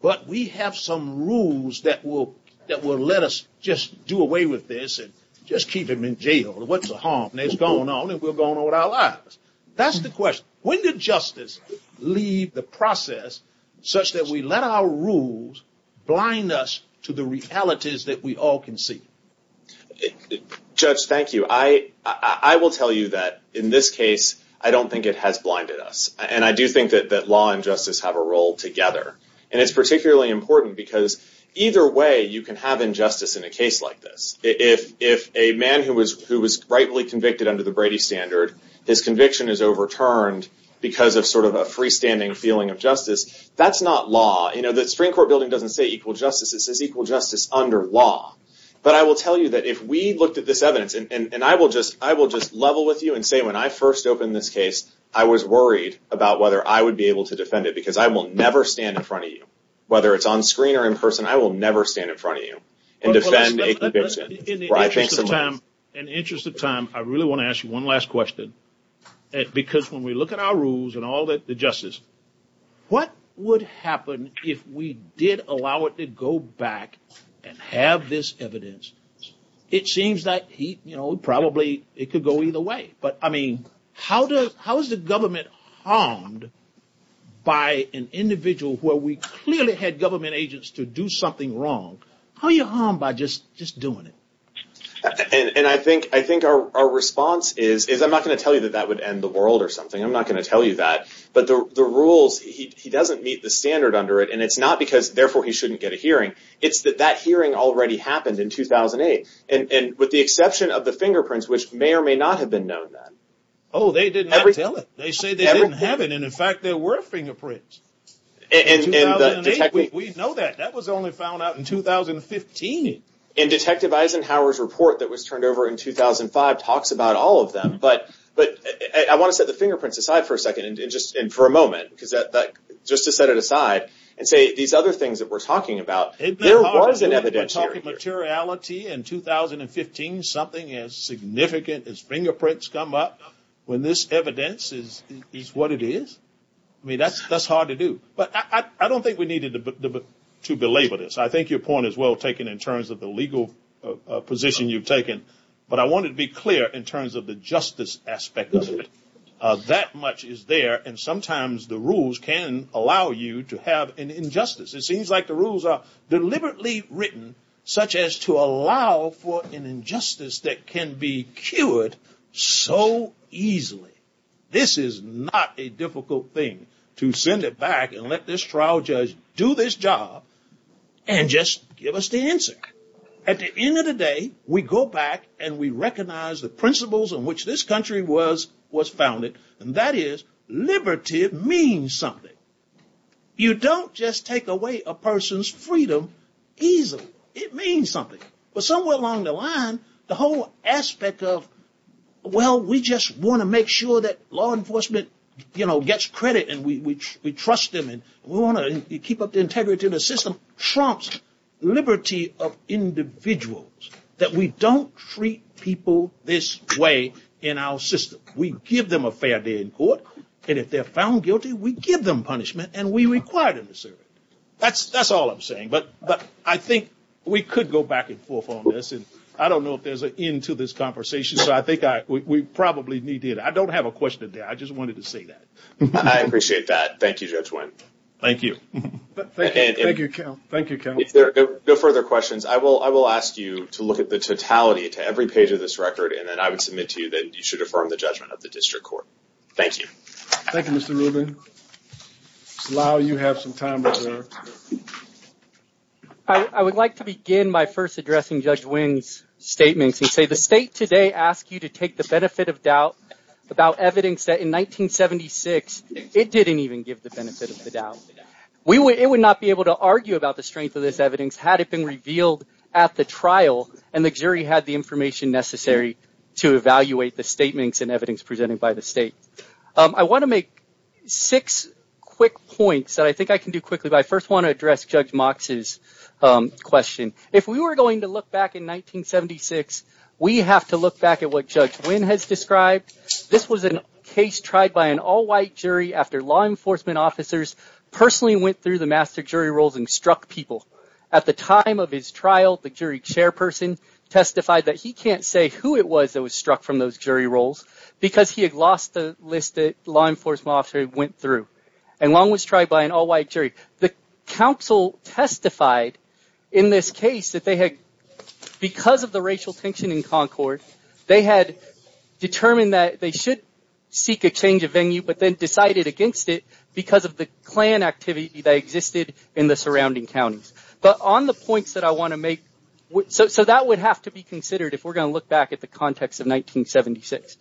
But we have some rules that will let us just do away with this and just keep him in jail. What's the harm? And it's gone on, and we're going on with our lives. That's the question. When did justice leave the process such that we let our rules blind us to the realities that we all can see? Judge, thank you. I will tell you that in this case, I don't think it has blinded us. And I do think that law and justice have a role together. And it's particularly important because either way you can have injustice in a case like this. If a man who was rightly convicted his conviction is overturned because of sort of a freestanding feeling of justice, that's not law. You know, the Supreme Court building doesn't say equal justice. It says equal justice under law. But I will tell you that if we looked at this evidence, and I will just level with you and say when I first opened this case, I was worried about whether I would be able to defend it because I will never stand in front of you, whether it's on screen or in person, I will never stand in front of you and defend a conviction. In the interest of time, I really want to ask you one last question. Because when we look at our rules and all the justice, what would happen if we did allow it to go back and have this evidence? It seems that he, you know, probably it could go either way. But I mean, how does, how is the government harmed by an individual where we clearly had government agents to do something wrong? How are you harmed by just doing it? And I think our response is, I'm not going to tell you that that would end the world or something. I'm not going to tell you that. But the rules, he doesn't meet the standard under it. And it's not because therefore he shouldn't get a hearing. It's that that hearing already happened in 2008. And with the exception of the fingerprints, which may or may not have been known then. Oh, they didn't have to tell us. They said they didn't have it. And in fact, there were fingerprints. In 2008, we know that. That was only found out in 2015. And Detective Eisenhower's report that was turned over in 2005 talks about all of them. But I want to set the fingerprints aside for a second and for a moment, because just to set it aside and say these other things that we're talking about. There was an evidence here. It's hard to materiality in 2015 something as significant as fingerprints come up when this evidence is what it is. I mean, that's hard to do. But I don't think we needed to belabor this. I think your point is well taken in terms of the legal position you've taken. But I wanted to be clear in terms of the justice aspect of it. That much is there. And sometimes the rules can allow you to have an injustice. It seems like the rules are deliberately written such as to allow for an injustice that can be cured so easily. This is not a difficult thing to send it back and let this trial judge do this job and just give us the answer. At the end of the day, we go back and we recognize the principles on which this country was founded. And that is liberty means something. You don't just take away a person's freedom easily. It means something. But somewhere along the line, the whole aspect of, well, we just want to make sure that law enforcement gets credit and we trust them and we want to keep up the integrity of the system trumps liberty of individuals. That we don't treat people this way in our system. We give them a fair day in court and if they're found guilty, we give them punishment and we require them to serve. That's all I'm saying. But I think we could go back and forth on this. And I don't know if there's an end to this conversation. So I think we probably need to. I don't have a question there. I just wanted to say that. I appreciate that. Thank you, Judge Wynton. Thank you. Thank you, Count. Thank you, Count. No further questions. I will ask you to look at the totality to every page of this record and then I would submit to you that you should affirm the judgment of the district court. Thank you. Thank you, Mr. Rubin. Lyle, you have some time. I would like to begin my first addressing Judge Wynton's statement to say the state today asked you to take the benefit of doubt about evidence that in 1976, it didn't even give the benefit of the doubt. It would not be able to argue about the strength of this evidence had it been revealed at the trial and the jury had the information necessary to evaluate the statements and evidence presented by the state. I want to make six quick points that I think I can do quickly. I first want to address Judge Mox's question. If we were going to look back in 1976, we have to look back at what Judge Wynton has described. This was a case tried by an all-white jury after law enforcement officers personally went through the master jury rules and struck people. At the time of his trial, the jury chairperson testified that he can't say who it was that was struck from those jury rolls because he had lost the list that law enforcement officers went through. And one was tried by an all-white jury. The council testified in this case that they had, because of the racial tension in Concord, they had determined that they should seek a change of venue, but then decided against it because of the Klan activity that existed in the surrounding counties. But on the points that I want to make, so that would have to be considered if we're going to look back at the context of 1976.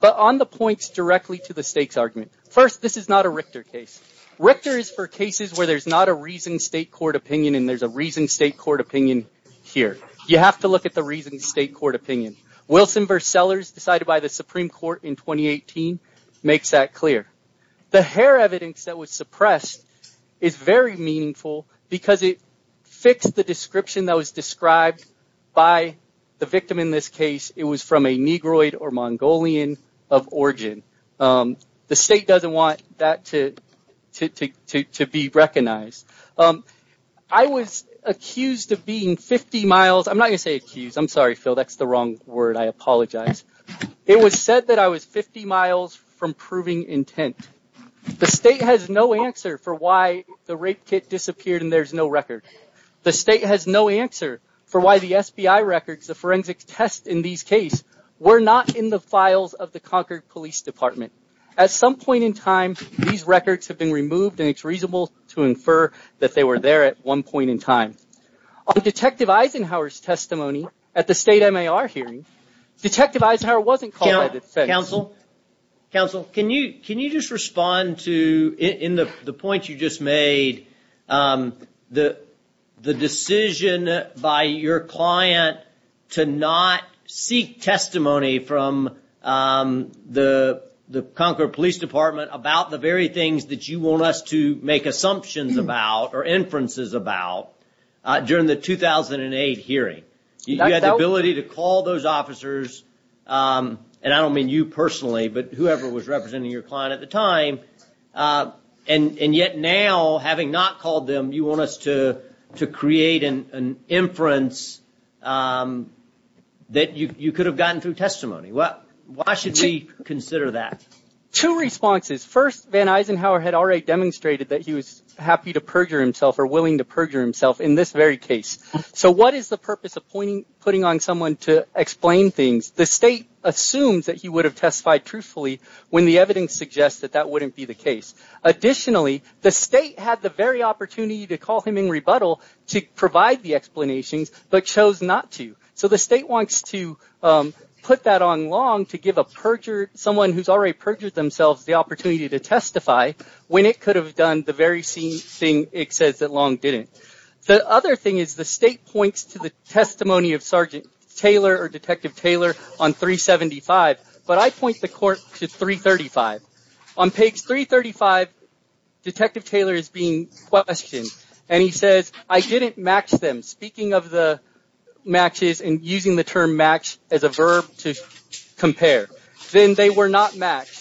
But on the points directly to the state's argument, first, this is not a Richter case. Richter is for cases where there's not a reasoned state court opinion and there's a reasoned state court opinion here. You have to look at the reasoned state court opinion. Wilson v. Sellers, decided by the Supreme Court in 2018, makes that clear. The hair evidence that was suppressed is very meaningful because it fits the description that was described by the victim in this case. It was from a Negroid or Mongolian of origin. The state doesn't want that to be recognized. I was accused of being 50 miles... I'm not going to say accused. I'm sorry, Phil. That's the wrong word. I apologize. It was said that I was 50 miles from proving intent. The state has no answer for why the rape kit disappeared and there's no record. The state has no answer for why the SBI records, the forensic test in these cases, were not in the files of the Concord Police Department. At some point in time, these records have been removed and it's reasonable to infer that they were there at one point in time. On Detective Eisenhower's testimony at the state MAR hearing, Detective Eisenhower wasn't called... Counsel, can you just respond to the point you just made? The decision by your client to not seek testimony from the Concord Police Department about the very things that you want us to make assumptions about or inferences about during the 2008 hearing. You had the ability to call those officers and I don't mean you personally, but whoever was representing your client at the time. And yet now, having not called them, you want us to create an inference that you could have gotten through testimony. Well, why should we consider that? Two responses. First, Van Eisenhower had already demonstrated that he was happy to perjure himself or willing to perjure himself in this very case. So what is the purpose of putting on someone to explain things? The state assumes that he would have testified truthfully when the evidence suggests that that wouldn't be the case. Additionally, the state had the very opportunity to call him in rebuttal to provide the explanation but chose not to. So the state wants to put that on Long to give someone who's already perjured themselves the opportunity to testify when it could have done the very same thing it says that Long didn't. The other thing is the state points to the testimony of Sergeant Taylor or Detective Taylor on 375, but I point the court to 335. On page 335, Detective Taylor is being questioned and he says, I didn't match them. Speaking of the matches and using the term match as a verb to compare, then they were not matched.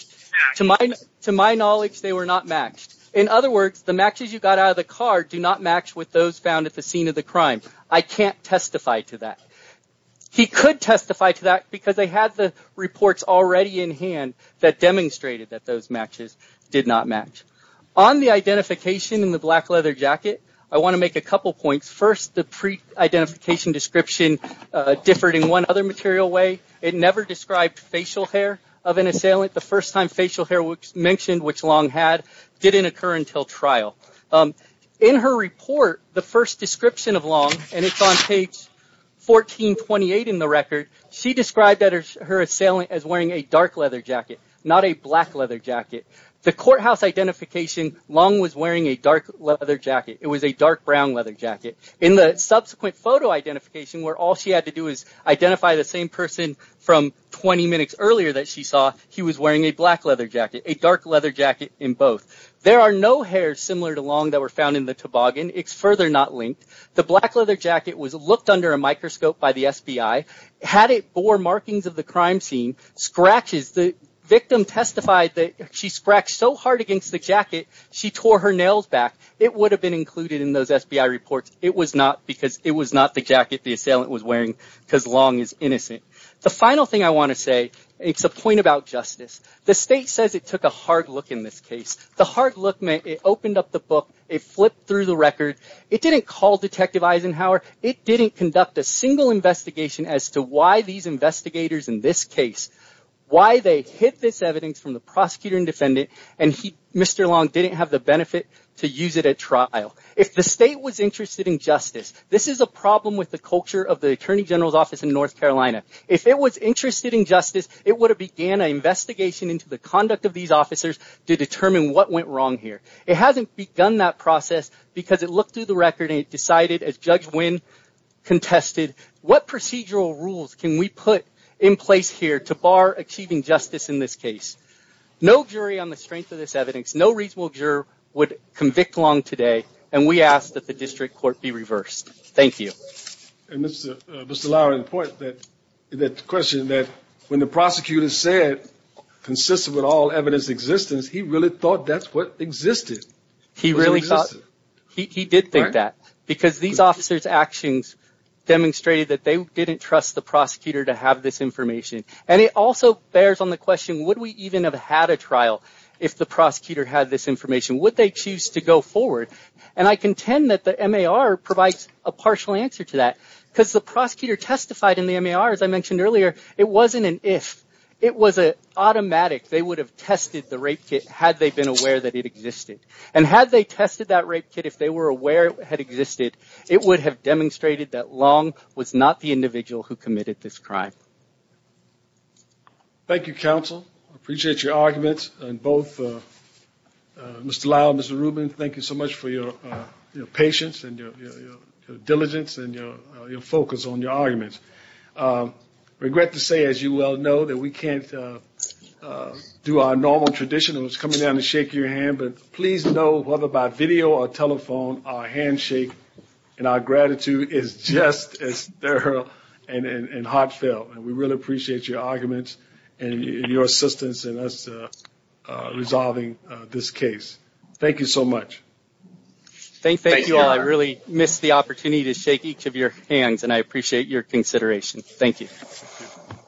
To my knowledge, they were not matched. In other words, the matches you got out of the car do not match with those found at the scene of the crime. I can't testify to that. He could testify to that because they had the reports already in hand that demonstrated that those matches did not match. On the identification in the black leather jacket, I want to make a couple points. First, the pre-identification description differed in one other material way. It never described facial hair of an assailant. The first time facial hair mentioned which Long had didn't occur until trial. In her report, the first description of Long and it's on page 1428 in the record, she described her assailant as wearing a dark leather jacket, not a black leather jacket. The courthouse identification, Long was wearing a dark leather jacket. It was a dark brown leather jacket. In the subsequent photo identification where all she had to do is identify the same person from 20 minutes earlier that she saw, he was wearing a black leather jacket, a dark leather jacket in both. There are no hairs similar to Long that were found in the toboggan. It's further not linked. The black leather jacket was looked under a microscope by the FBI. Had it bore markings of the crime scene, scratches, the victim testified that she scratched so hard against the jacket, she tore her nails back. It would have been included in those FBI reports. It was not because it was not the jacket the assailant was wearing because Long is innocent. The final thing I want to say it's a point about justice. The state says it took a hard look in this case. The hard look meant it opened up the book. It flipped through the record. It didn't call Detective Eisenhower. It didn't conduct a single investigation as to why these investigators in this case, why they hid this evidence from the prosecutor and defendant and Mr. Long didn't have the benefit to use it at trial. If the state was interested in justice, this is a problem with the culture of the Attorney General's Office in North Carolina. If it was interested in justice, it would have began an investigation into the conduct of these officers to determine what went wrong here. It hasn't begun that process because it looked through the record and it decided as Judge Wynn contested what procedural rules can we put in place here to bar achieving justice in this case. No jury on the strength of this evidence, no reasonable juror would convict Long today and we ask that the district court be reversed. Thank you. And Mr. Lowry, important that the question that when the prosecutor said consistent with all evidence existence, he really thought that's what existed. He did think that because these officers' actions demonstrated that they didn't trust the prosecutor to have this information and it also bears on the question, would we even have had a trial if the prosecutor had this information? Would they choose to go forward? And I contend that the MAR provides a partial answer to that because the prosecutor testified in the MAR as I mentioned earlier, it wasn't an if, it was an automatic. They would have tested the rape kit had they been aware that it existed and had they tested that rape kit if they were aware it had existed, it would have demonstrated that Long was not the individual who committed this crime. Thank you, counsel. I appreciate your arguments and both Mr. Lowry and Mr. Rubin, thank you so much for your patience and your diligence and your focus on your arguments. Regret to say, as you well know, that we can't do our normal tradition and it's coming down to shake your hand, but please know whether by video or telephone, our handshake and our gratitude is just as thorough and heartfelt and we really appreciate your arguments and your assistance in us resolving this case. Thank you so much. Thank you, I really missed the opportunity to shake each of your hands and I appreciate your consideration. Thank you.